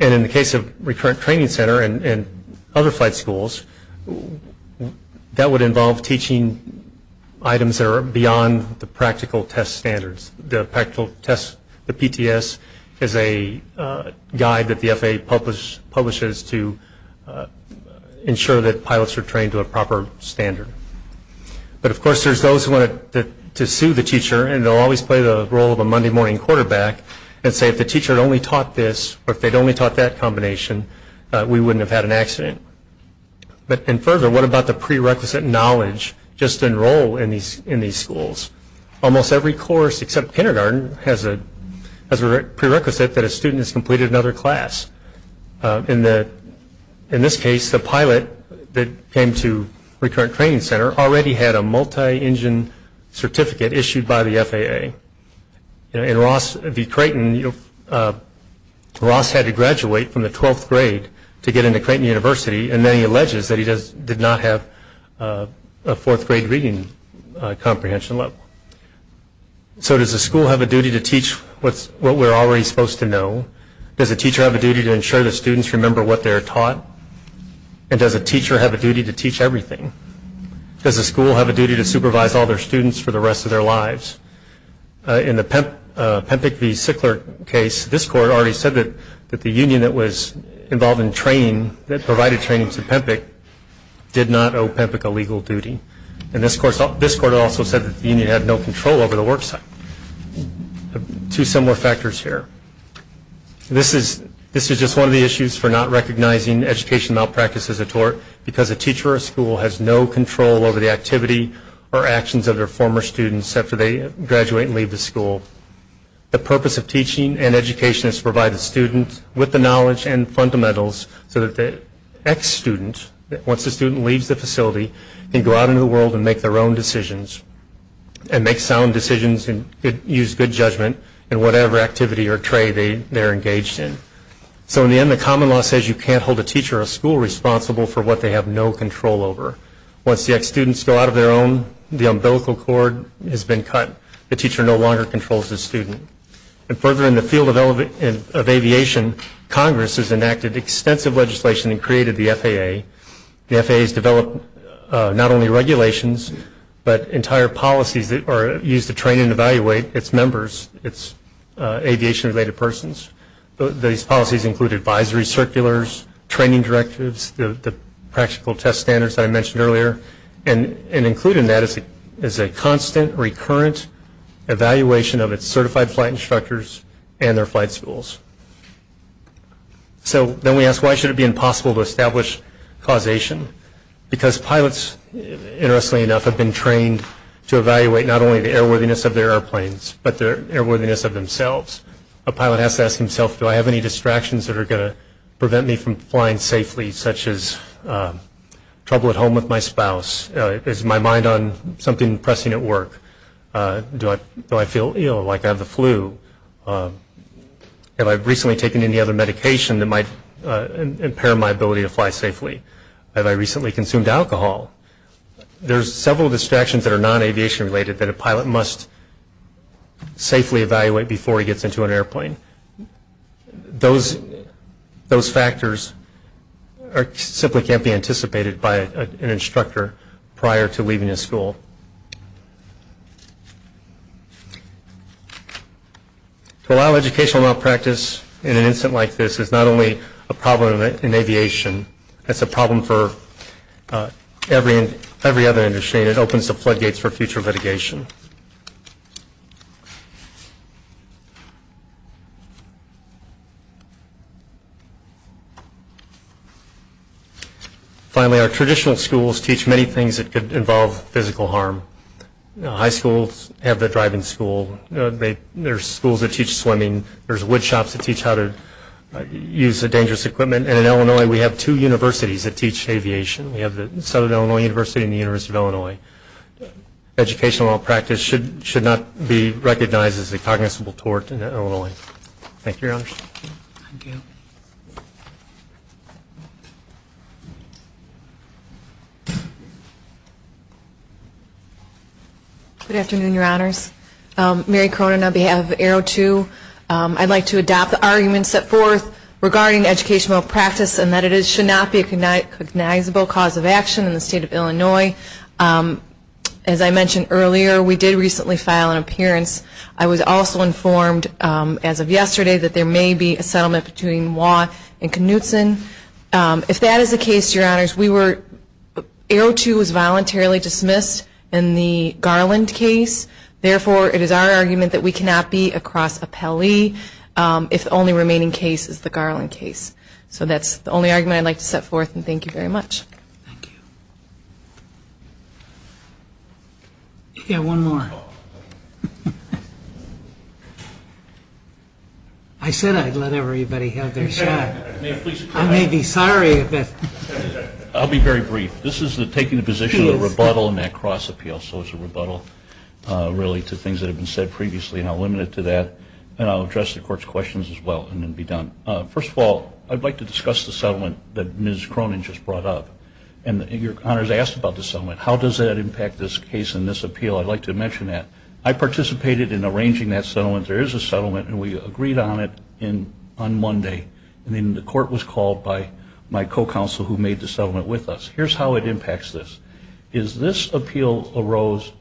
In the case of Recurrent Training Center and other flight schools, that would involve teaching items that are beyond the practical test standards. The practical test, the PTS, is a guide that the FAA publishes to ensure that pilots are trained to a proper standard. But, of course, there's those who want to sue the teacher, and they'll always play the role of a Monday morning quarterback and say, if the teacher had only taught this or if they'd only taught that combination, we wouldn't have had an accident. And further, what about the prerequisite knowledge just to enroll in these schools? Almost every course except kindergarten has a prerequisite that a student has completed another class. In this case, the pilot that came to Recurrent Training Center already had a multi-engine certificate issued by the FAA. In Ross v. Creighton, Ross had to graduate from the 12th grade to get into Creighton University, and then he alleges that he did not have a fourth grade reading comprehension level. So does the school have a duty to teach what we're already supposed to know? Does the teacher have a duty to ensure the students remember what they're taught? And does the teacher have a duty to teach everything? Does the school have a duty to supervise all their students for the rest of their lives? In the Pempick v. Sickler case, this court already said that the union that was involved in training, that provided training to Pempick, did not owe Pempick a legal duty. And this court also said that the union had no control over the work site. Two similar factors here. This is just one of the issues for not recognizing education malpractice as a tort, because a teacher of a school has no control over the activity or actions of their former students after they graduate and leave the school. The purpose of teaching and education is to provide the students with the knowledge and fundamentals so that the ex-student, once the student leaves the facility, can go out into the world and make their own decisions, and make sound decisions and use good judgment in whatever activity or trade they're engaged in. So in the end, the common law says you can't hold a teacher of a school responsible for what they have no control over. Once the ex-students go out of their own, the umbilical cord has been cut, the teacher no longer controls the student. And further in the field of aviation, Congress has enacted extensive legislation and created the FAA. The FAA has developed not only regulations, but entire policies that are used to train and evaluate its members, its aviation-related persons. Those policies include advisories, circulars, training directives, the practical test standards that I mentioned earlier, and included in that is a constant, recurrent evaluation of its certified flight instructors and their flight schools. So then we ask, why should it be impossible to establish causation? Because pilots, interestingly enough, have been trained to evaluate not only the airworthiness of their airplanes, but their airworthiness of themselves. A pilot has to ask himself, do I have any distractions that are going to prevent me from flying safely, such as trouble at home with my spouse? Is my mind on something pressing at work? Do I feel ill, like I have the flu? Have I recently taken any other medication that might impair my ability to fly safely? Have I recently consumed alcohol? There's several distractions that are non-aviation-related that a pilot must safely evaluate before he gets into an airplane. Those factors simply can't be anticipated by an instructor prior to leaving the school. To allow educational malpractice in an incident like this is not only a problem in aviation, it's a problem for every other industry and it opens the floodgates for future litigation. Finally, our traditional schools teach many things that involve physical harm. High schools have the driving school. There's schools that teach swimming. There's woodshops that teach how to use the dangerous equipment. And in Illinois, we have two universities that teach aviation. Educational malpractice should not be recognized as a cognizable tort in Illinois. Thank you, Your Honors. Thank you. Good afternoon, Your Honors. Mary Cronin on behalf of AERO2. I'd like to adopt the arguments set forth regarding educational malpractice and that it should not be a cognizable cause of action in the state of Illinois. As I mentioned earlier, we did recently file an appearance. I was also informed as of yesterday that there may be a settlement between Watt and Knutson. If that is the case, Your Honors, AERO2 was voluntarily dismissed in the Garland case. Therefore, it is our argument that we cannot be across Appellee if the only remaining case is the Garland case. So that's the only argument I'd like to set forth, and thank you very much. Thank you. Yeah, one more. I said I'd let everybody have their shot. I may be sorry, but... I'll be very brief. This is taking the position of the rebuttal and that cross-appeal. So it's a rebuttal, really, to things that have been said previously, and I'll limit it to that. And I'll address the court's questions as well, and then be done. First of all, I'd like to discuss the settlement that Ms. Cronin just brought up. And Your Honors asked about the settlement. How does that impact this case and this appeal? I'd like to mention that. I participated in arranging that settlement. There is a settlement, and we agreed on it on Monday. And then the court was called by my co-counsel who made the settlement with us. Here's how it impacts this. This appeal arose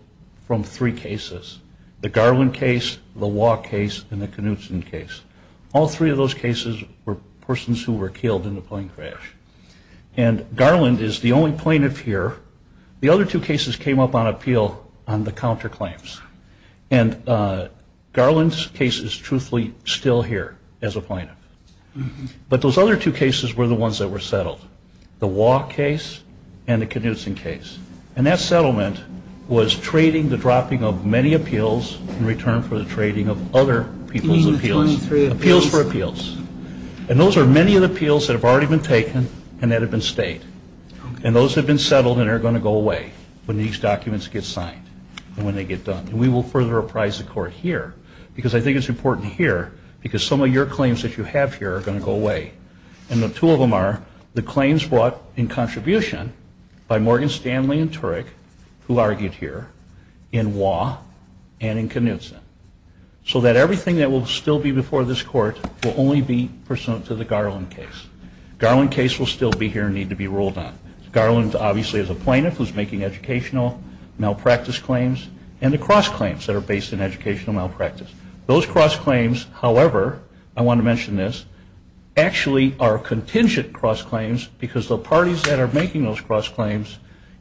from three cases, the Garland case, the Watt case, and the Knutson case. All three of those cases were persons who were killed in the plane crash. And Garland is the only plaintiff here. The other two cases came up on appeal on the counterclaims. And Garland's case is truthfully still here as a plaintiff. But those other two cases were the ones that were settled, the Watt case and the Knutson case. And that settlement was trading the dropping of many appeals in return for the trading of other people's appeals. Appeals for appeals. And those are many of the appeals that have already been taken and that have been stayed. And those have been settled and are going to go away when these documents get signed and when they get done. And we will further apprise the court here because I think it's important here because some of your claims that you have here are going to go away. And the two of them are the claims brought in contribution by Morgan Stanley and Turek, who argued here, in Watt and in Knutson. So that everything that will still be before this court will only be pursuant to the Garland case. Garland case will still be here and need to be ruled on. Garland obviously is a plaintiff who is making educational malpractice claims and the cross claims that are based in educational malpractice. Those cross claims, however, I want to mention this, actually are contingent cross claims because the parties that are making those cross claims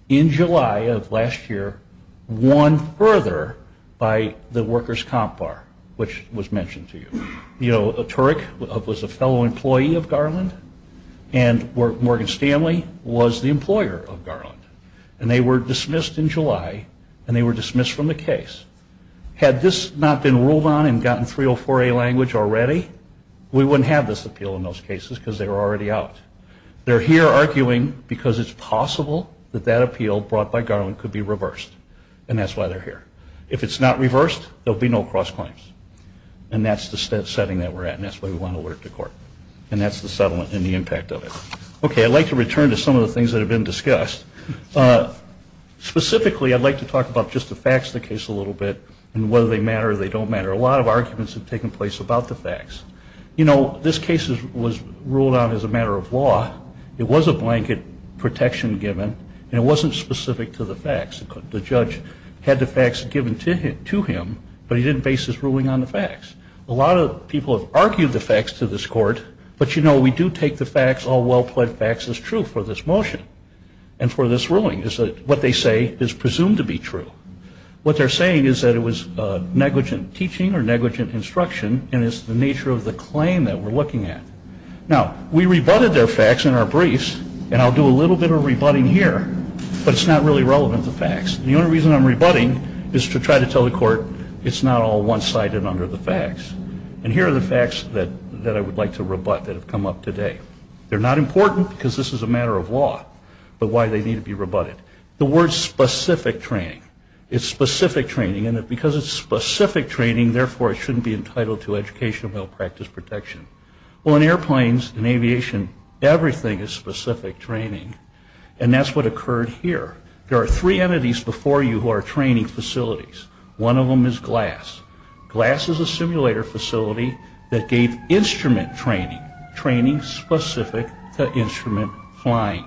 in July of last year won further by the workers' comp bar, which was mentioned to you. You know, Turek was a fellow employee of Garland and Morgan Stanley was the employer of Garland. And they were dismissed in July and they were dismissed from the case. Had this not been ruled on and gotten 304A language already, we wouldn't have this appeal in those cases because they were already out. They're here arguing because it's possible that that appeal brought by Garland could be reversed. And that's why they're here. If it's not reversed, there will be no cross claims. And that's the setting that we're at and that's where we want to work the court. And that's the settlement and the impact of it. Okay, I'd like to return to some of the things that have been discussed. Specifically, I'd like to talk about just the facts of the case a little bit and whether they matter or they don't matter. A lot of arguments have taken place about the facts. You know, this case was ruled out as a matter of law. It was a blanket protection given and it wasn't specific to the facts. The judge had the facts given to him, but he didn't base his ruling on the facts. A lot of people have argued the facts to this court, but, you know, we do take the facts, all well-plaid facts, as true for this motion. And for this ruling, what they say is presumed to be true. What they're saying is that it was negligent teaching or negligent instruction and it's the nature of the claim that we're looking at. Now, we rebutted their facts in our briefs, and I'll do a little bit of rebutting here, but it's not really relevant to facts. The only reason I'm rebutting is to try to tell the court it's not all one-sided under the facts. And here are the facts that I would like to rebut that have come up today. They're not important because this is a matter of law, but why they need to be rebutted. The word specific training. It's specific training, and because it's specific training, therefore it shouldn't be entitled to educational health practice protection. Well, in airplanes, in aviation, everything is specific training, and that's what occurred here. There are three entities before you who are training facilities. One of them is GLASS. GLASS is a simulator facility that gave instrument training, training specific to instrument flying.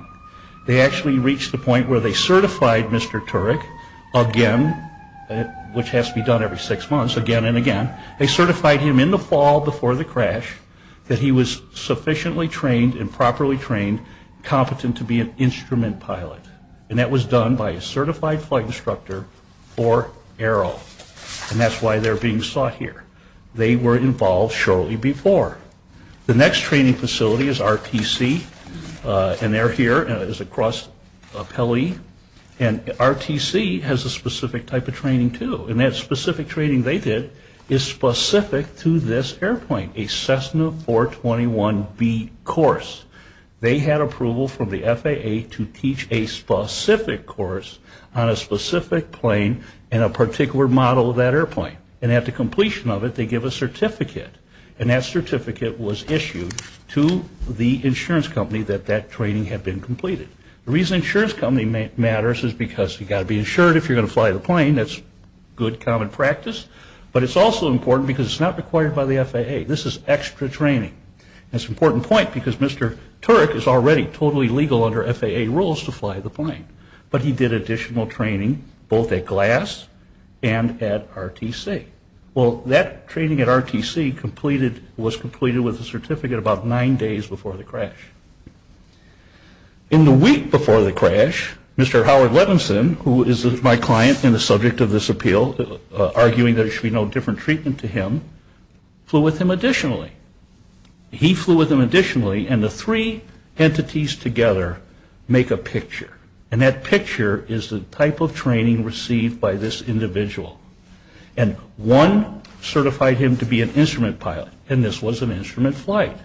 They actually reached the point where they certified Mr. Turek again, which has to be done every six months, again and again. They certified him in the fall before the crash that he was sufficiently trained and properly trained, competent to be an instrument pilot, and that was done by a certified flight instructor or AERO, and that's why they're being sought here. They were involved shortly before. The next training facility is RTC, and they're here. It's across Kelly, and RTC has a specific type of training too, and that specific training they did is specific to this airplane, a Cessna 421B course. They had approval from the FAA to teach a specific course on a specific plane and a particular model of that airplane, and at the completion of it, they give a certificate, and that certificate was issued to the insurance company that that training had been completed. The reason the insurance company matters is because you've got to be insured if you're going to fly the plane. That's good common practice, but it's also important because it's not required by the FAA. This is extra training, and it's an important point because Mr. Turek is already totally legal under FAA rules to fly the plane, but he did additional training both at GLASS and at RTC. Well, that training at RTC was completed with a certificate about nine days before the crash. In the week before the crash, Mr. Howard Levinson, who is my client and the subject of this appeal, arguing that there should be no different treatment to him, flew with him additionally. He flew with him additionally, and the three entities together make a picture, and that picture is the type of training received by this individual. And one certified him to be an instrument pilot, and this was an instrument flight.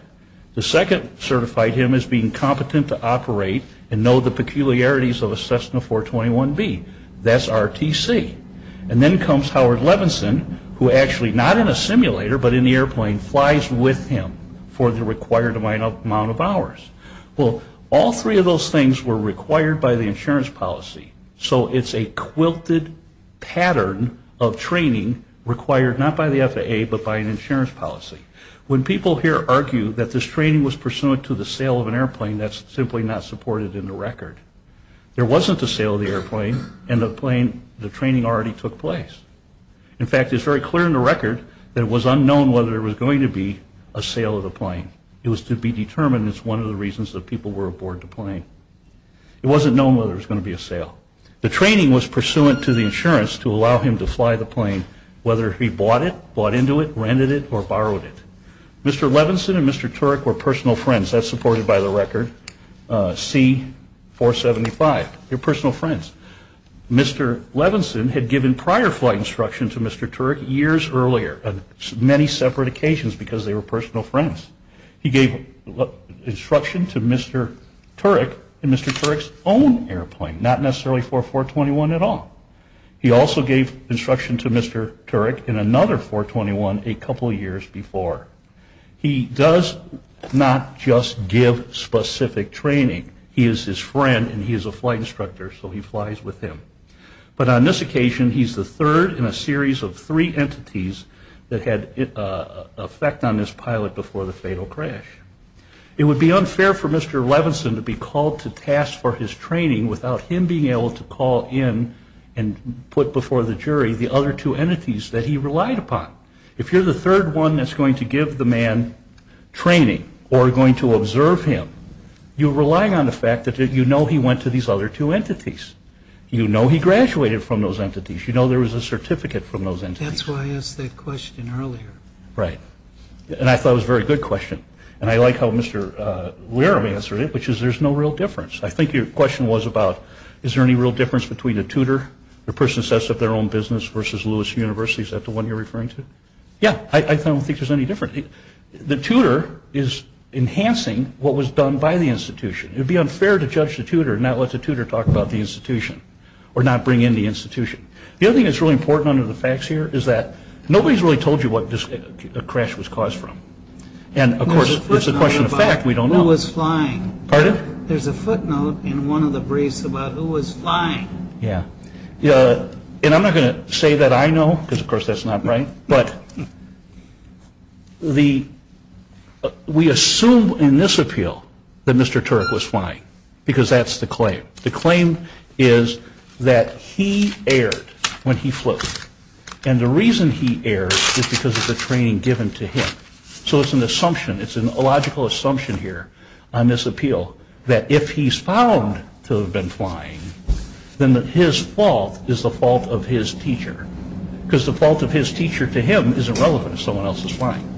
The second certified him as being competent to operate and know the peculiarities of a Cessna 421B. That's RTC. And then comes Howard Levinson, who actually, not in a simulator, but in the airplane, flies with him for the required amount of hours. Well, all three of those things were required by the insurance policy, so it's a quilted pattern of training required not by the FAA, but by an insurance policy. When people here argue that this training was pursuant to the sale of an airplane, that's simply not supported in the record. There wasn't the sale of the airplane, and the training already took place. In fact, it's very clear in the record that it was unknown whether there was going to be a sale of the plane. It was to be determined as one of the reasons that people were aboard the plane. It wasn't known whether there was going to be a sale. The training was pursuant to the insurance to allow him to fly the plane, whether he bought it, bought into it, rented it, or borrowed it. Mr. Levinson and Mr. Turek were personal friends. That's supported by the record, C-475. They're personal friends. Mr. Levinson had given prior flight instruction to Mr. Turek years earlier on many separate occasions because they were personal friends. He gave instruction to Mr. Turek in Mr. Turek's own airplane, not necessarily for 421 at all. He also gave instruction to Mr. Turek in another 421 a couple years before. He does not just give specific training. He is his friend, and he is a flight instructor, so he flies with him. But on this occasion, he's the third in a series of three entities that had effect on his pilot before the fatal crash. It would be unfair for Mr. Levinson to be called to task for his training without him being able to call in and put before the jury the other two entities that he relied upon. If you're the third one that's going to give the man training or going to observe him, you're relying on the fact that you know he went to these other two entities. You know he graduated from those entities. You know there was a certificate from those entities. That's why I asked that question earlier. Right, and I thought it was a very good question, and I like how Mr. Ware answered it, which is there's no real difference. I think your question was about is there any real difference between the tutor, the person that sets up their own business, versus Lewis University. Is that the one you're referring to? Yeah, I don't think there's any difference. The tutor is enhancing what was done by the institution. It would be unfair to judge the tutor and not let the tutor talk about the institution or not bring in the institution. The other thing that's really important under the facts here is that nobody's really told you what this crash was caused from. And, of course, it's a question of fact. We don't know. Who was flying? Pardon? There's a footnote in one of the briefs about who was flying. Yeah, and I'm not going to say that I know, because of course that's not right, but we assume in this appeal that Mr. Turick was flying because that's the claim. The claim is that he erred when he flew. And the reason he erred is because of the training given to him. So it's an assumption. It's a logical assumption here on this appeal that if he's found to have been flying, then his fault is the fault of his teacher, because the fault of his teacher to him isn't relevant if someone else is flying.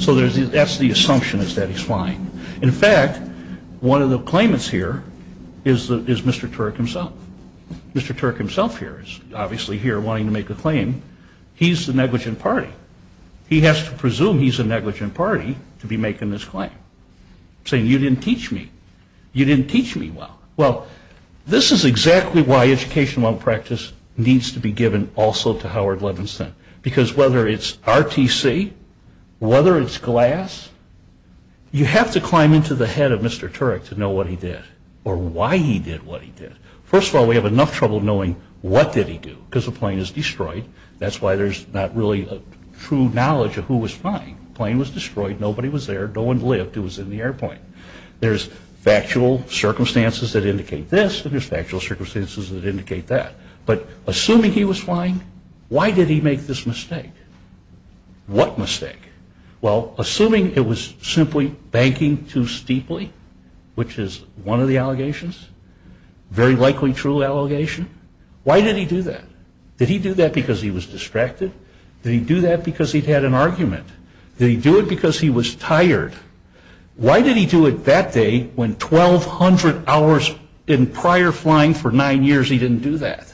So that's the assumption is that he's flying. In fact, one of the claimants here is Mr. Turick himself. Mr. Turick himself here is obviously here wanting to make the claim. He's the negligent party. He has to presume he's the negligent party to be making this claim, saying you didn't teach me. You didn't teach me well. Well, this is exactly why education while in practice needs to be given also to Howard Levinson, because whether it's RTC, whether it's glass, you have to climb into the head of Mr. Turick to know what he did or why he did what he did. First of all, we have enough trouble knowing what did he do because the plane is destroyed. That's why there's not really a true knowledge of who was flying. The plane was destroyed. Nobody was there. No one lived who was in the airplane. There's factual circumstances that indicate this, and there's factual circumstances that indicate that. But assuming he was flying, why did he make this mistake? What mistake? Well, assuming it was simply banking too steeply, which is one of the allegations, very likely true allegation, why did he do that? Did he do that because he was distracted? Did he do that because he'd had an argument? Did he do it because he was tired? Why did he do it that day when 1,200 hours in prior flying for nine years he didn't do that?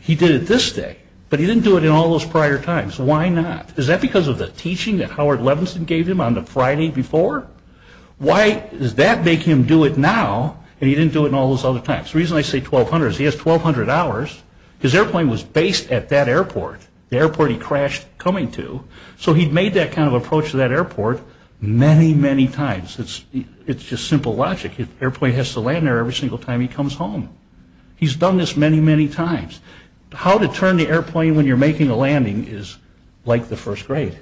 He did it this day, but he didn't do it in all those prior times. Why not? Is that because of the teaching that Howard Levinson gave him on the Friday before? Why is that making him do it now and he didn't do it in all those other times? The reason I say 1,200 is he has 1,200 hours. His airplane was based at that airport, the airport he crashed coming to, so he'd made that kind of approach to that airport many, many times. It's just simple logic. The airplane has to land there every single time he comes home. He's done this many, many times. How to turn the airplane when you're making a landing is like the first grade.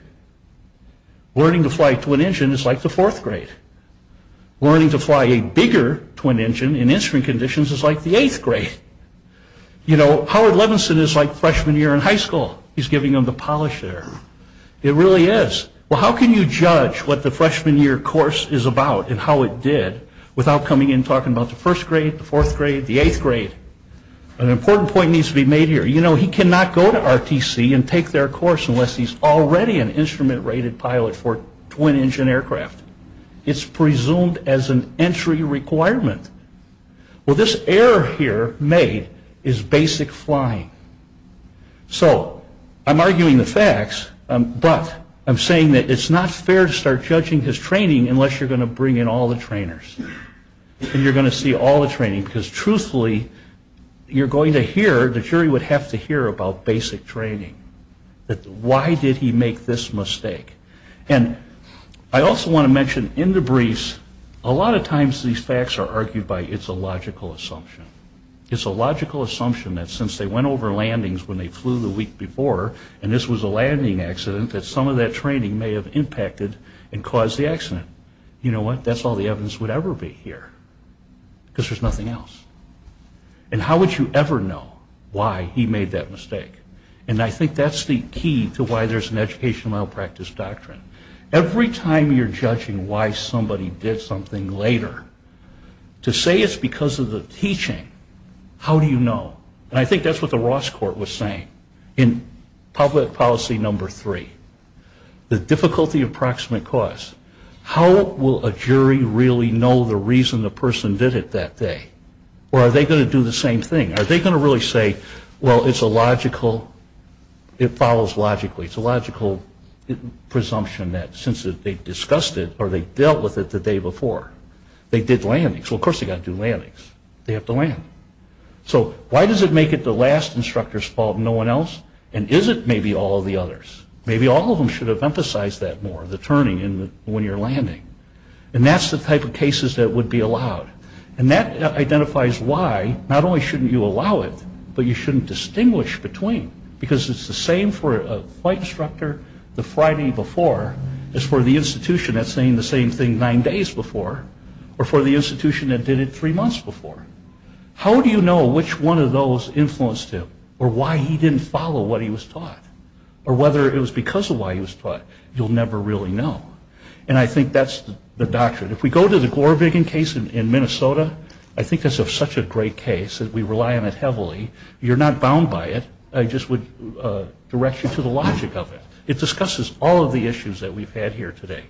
Learning to fly a twin engine is like the fourth grade. Learning to fly a bigger twin engine in instrument conditions is like the eighth grade. Howard Levinson is like freshman year in high school. He's giving them the polish there. It really is. Well, how can you judge what the freshman year course is about and how it did without coming in and talking about the first grade, the fourth grade, the eighth grade? An important point needs to be made here. You know, he cannot go to RTC and take their course unless he's already an instrument-rated pilot for twin engine aircraft. It's presumed as an entry requirement. Well, this error here made is basic flying. So I'm arguing the facts, but I'm saying that it's not fair to start judging his training unless you're going to bring in all the trainers and you're going to see all the training, because truthfully, you're going to hear, the jury would have to hear about basic training. Why did he make this mistake? And I also want to mention, in the briefs, a lot of times these facts are argued by it's a logical assumption. It's a logical assumption that since they went over landings when they flew the week before and this was a landing accident, that some of that training may have impacted and caused the accident. You know what? That's all the evidence would ever be here, because there's nothing else. And how would you ever know why he made that mistake? And I think that's the key to why there's an educational malpractice doctrine. Every time you're judging why somebody did something later, to say it's because of the teaching, how do you know? And I think that's what the Ross Court was saying in Public Policy Number 3. The difficulty of proximate cause. How will a jury really know the reason the person did it that day? Or are they going to do the same thing? Are they going to really say, well, it's a logical, it follows logically, it's a logical presumption that since they discussed it or they dealt with it the day before, they did landings. Well, of course they've got to do landings. They have to land. So why does it make it the last instructor's fault and no one else? And is it maybe all of the others? Maybe all of them should have emphasized that more, the turning when you're landing. And that's the type of cases that would be allowed. And that identifies why not only shouldn't you allow it, but you shouldn't distinguish between, because it's the same for a flight instructor the Friday before as for the institution that's saying the same thing nine days before or for the institution that did it three months before. How do you know which one of those influenced him? Or why he didn't follow what he was taught? Or whether it was because of why he was taught? You'll never really know. And I think that's the doctrine. If we go to the Glorvigan case in Minnesota, I think it's such a great case that we rely on it heavily. You're not bound by it. I just would direct you to the logic of it. It discusses all of the issues that we've had here today.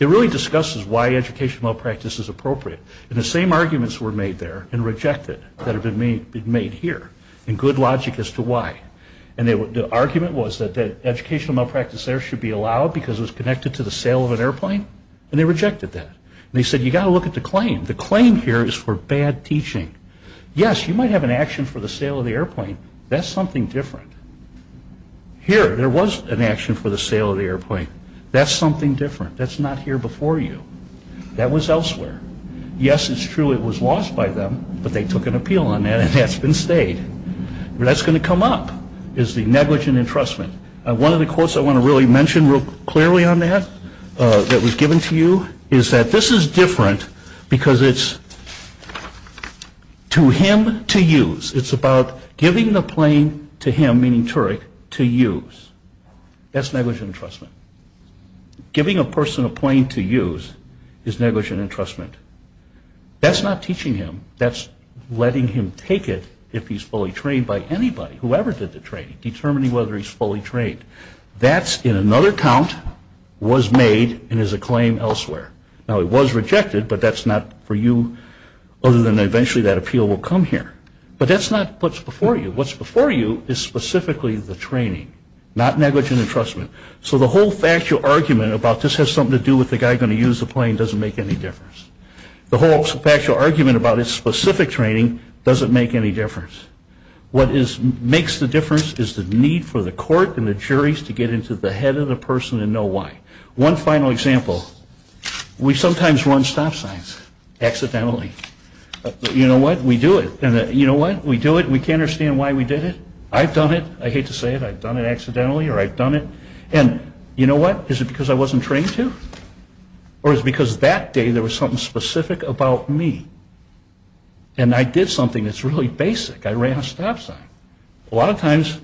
It really discusses why educational malpractice is appropriate. And the same arguments were made there and rejected that have been made here, and good logic as to why. And the argument was that educational malpractice there should be allowed because it was connected to the sale of an airplane, and they rejected that. And they said, you've got to look at the claim. The claim here is for bad teaching. Yes, you might have an action for the sale of the airplane. That's something different. Here, there was an action for the sale of the airplane. That's something different. That's not here before you. That was elsewhere. Yes, it's true it was lost by them, but they took an appeal on that, and that's been stayed. That's going to come up is the negligent entrustment. One of the quotes I want to really mention real clearly on that that we've given to you is that this is different because it's to him to use. It's about giving the plane to him, meaning Turek, to use. That's negligent entrustment. Giving a person a plane to use is negligent entrustment. That's not teaching him. That's letting him take it if he's fully trained by anybody, whoever did the training, determining whether he's fully trained. That, in another count, was made and is a claim elsewhere. Now, it was rejected, but that's not for you, other than eventually that appeal will come here. But that's not what's before you. What's before you is specifically the training, not negligent entrustment. So the whole factual argument about this has something to do with the guy going to use the plane doesn't make any difference. The whole factual argument about his specific training doesn't make any difference. What makes the difference is the need for the court and the juries to get into the head of the person and know why. One final example. We sometimes run stop signs accidentally. You know what? We do it. And you know what? We do it and we can't understand why we did it. I've done it. I hate to say it. I've done it accidentally or I've done it. And you know what? Is it because I wasn't trained to? Or is it because that day there was something specific about me and I did something that's really basic? I ran a stop sign. A lot of times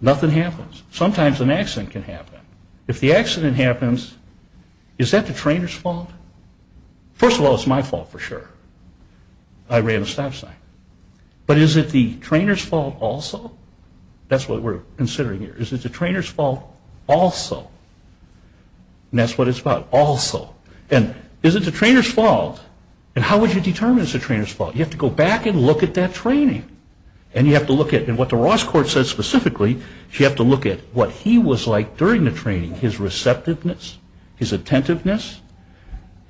nothing happens. Sometimes an accident can happen. If the accident happens, is that the trainer's fault? First of all, it's my fault for sure. I ran a stop sign. But is it the trainer's fault also? That's what we're considering here. Is it the trainer's fault also? And that's what it's about. Also. And is it the trainer's fault? And how would you determine it's the trainer's fault? You have to go back and look at that training. And you have to look at what the Ross court says specifically. So you have to look at what he was like during the training. His receptiveness. His attentiveness.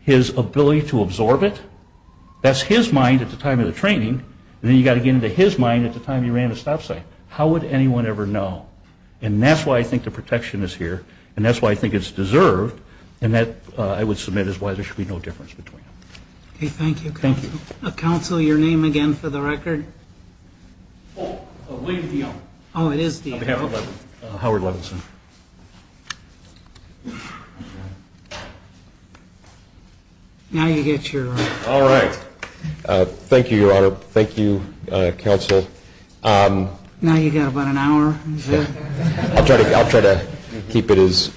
His ability to absorb it. That's his mind at the time of the training. And then you've got to get into his mind at the time he ran a stop sign. How would anyone ever know? And that's why I think the protection is here. And that's why I think it's deserved. And that, I would submit, is why there should be no difference between them. Okay, thank you. Thank you. Counselor, your name again for the record. Oh, it is the owner. Oh, it is the owner. Howard Levinson. Now you get your. All right. Thank you, Your Honor. Thank you, Counsel. Now you've got about an hour. I'll try to keep it as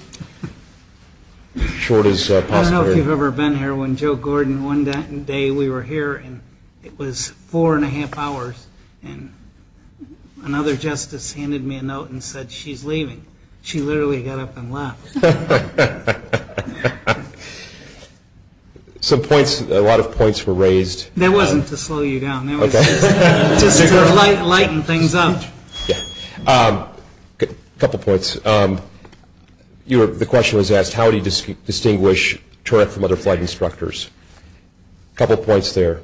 short as possible. I don't know if you've ever been here when Joe Gordon won that day. I was here the day we were here, and it was four and a half hours. And another justice handed me a note and said she's leaving. She literally got up and left. Some points, a lot of points were raised. That wasn't to slow you down. That was just to lighten things up. A couple points. The question was asked, how do you distinguish Turek from other flight instructors? A couple points there.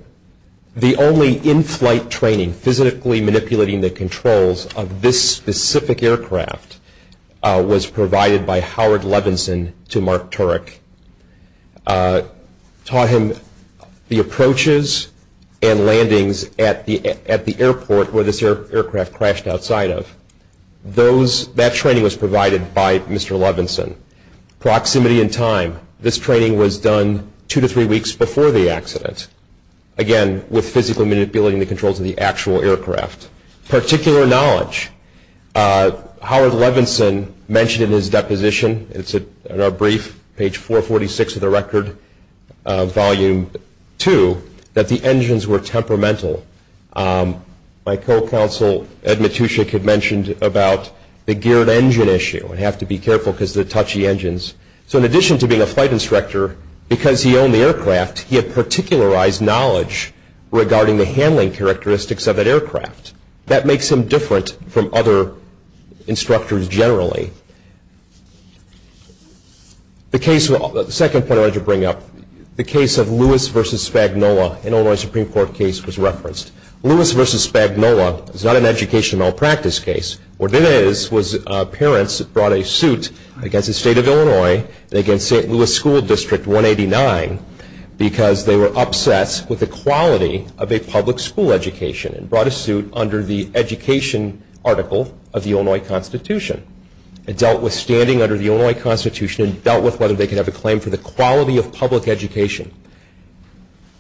The only in-flight training, physically manipulating the controls of this specific aircraft, was provided by Howard Levinson to Mark Turek. Taught him the approaches and landings at the airport where this aircraft crashed outside of. That training was provided by Mr. Levinson. Proximity and time. This training was done two to three weeks before the accident. Again, with physical manipulating the controls of the actual aircraft. Particular knowledge. Howard Levinson mentioned in his deposition, it's in our brief, page 446 of the record, volume two, that the engines were temperamental. My co-counsel Ed Matuschik had mentioned about the geared engine issue. We have to be careful because of the touchy engines. So in addition to being a flight instructor, because he owned the aircraft, he had particularized knowledge regarding the handling characteristics of that aircraft. That makes him different from other instructors generally. The second point I wanted to bring up. The case of Lewis v. Spagnola, an Illinois Supreme Court case, was referenced. Lewis v. Spagnola is not an education malpractice case. What it is, was parents brought a suit against the state of Illinois, against St. Louis School District 189, because they were upset with the quality of a public school education and brought a suit under the education article of the Illinois Constitution. It dealt with standing under the Illinois Constitution and dealt with whether they could have a claim for the quality of public education.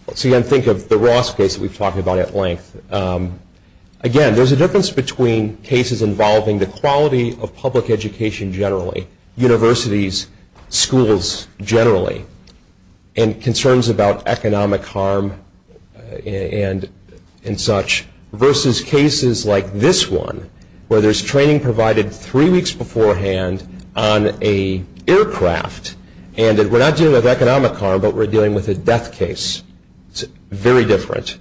Again, think of the Ross case that we've talked about at length. Again, there's a difference between cases involving the quality of public education generally, universities, schools generally, and concerns about economic harm and such, versus cases like this one, where there's training provided three weeks beforehand on an aircraft, and we're not dealing with economic harm, but we're dealing with a death case. It's very different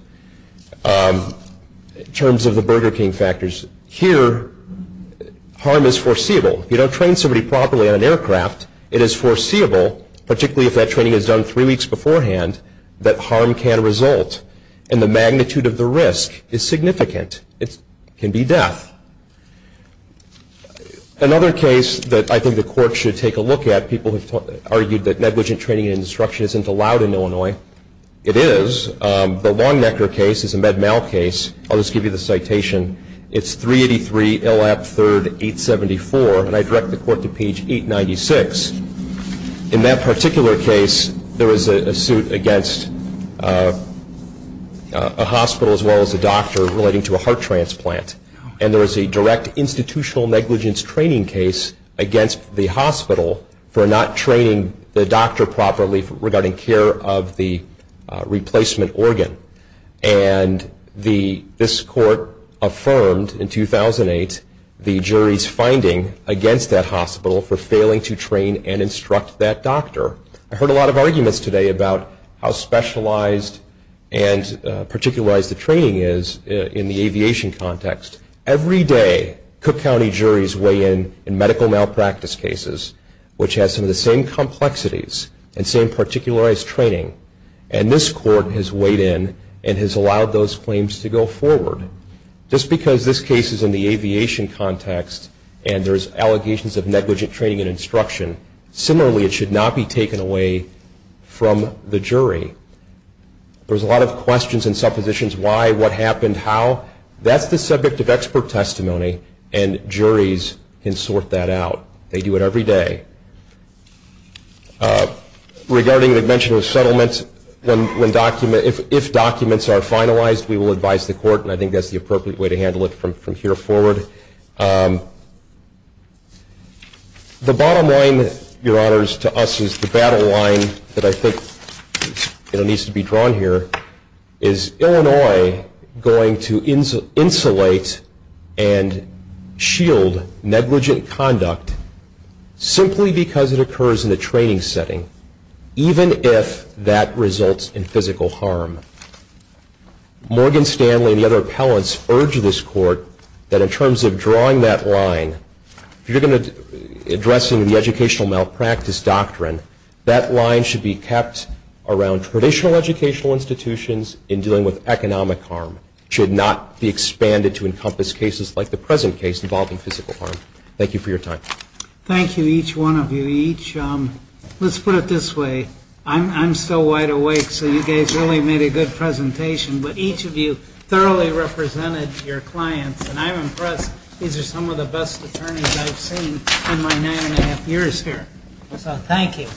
in terms of the Burger King factors. Here, harm is foreseeable. If you don't train somebody properly on an aircraft, it is foreseeable, particularly if that training is done three weeks beforehand, that harm can result. And the magnitude of the risk is significant. It can be death. Another case that I think the court should take a look at, people have argued that negligent training and instruction isn't allowed in Illinois. It is. The Longnecker case is a Med-Mal case. I'll just give you the citation. It's 383 L.F. 3rd 874, and I direct the court to page 896. In that particular case, there was a suit against a hospital as well as a doctor relating to a heart transplant, and there was a direct institutional negligence training case against the hospital for not training the doctor properly regarding care of the replacement organ. And this court affirmed in 2008 the jury's finding against that hospital for failing to train and instruct that doctor. I heard a lot of arguments today about how specialized and particularized the training is in the aviation context. Every day, Cook County juries weigh in in medical malpractice cases, which has some of the same complexities and same particularized training, and this court has weighed in and has allowed those claims to go forward. Just because this case is in the aviation context and there's allegations of negligent training and instruction, similarly, it should not be taken away from the jury. There's a lot of questions in some positions. Why? What happened? How? That's the subject of expert testimony, and juries can sort that out. They do it every day. Regarding the mention of settlement, if documents are finalized, we will advise the court, and I think that's the appropriate way to handle it from here forward. The bottom line, Your Honors, to us is the battle line that I think needs to be drawn here. Is Illinois going to insulate and shield negligent conduct simply because it occurs in a training setting, even if that results in physical harm? Morgan Stanley and the other appellants urge this court that in terms of drawing that line, if you're going to address the educational malpractice doctrine, that line should be kept around traditional educational institutions in dealing with economic harm. It should not be expanded to encompass cases like the present case involving physical harm. Thank you for your time. Thank you, each one of you. Let's put it this way. I'm still wide awake, so you guys really made a good presentation, but each of you thoroughly represented your clients, and I'm impressed. These are some of the best attorneys I've seen in my nine and a half years here. Thank you.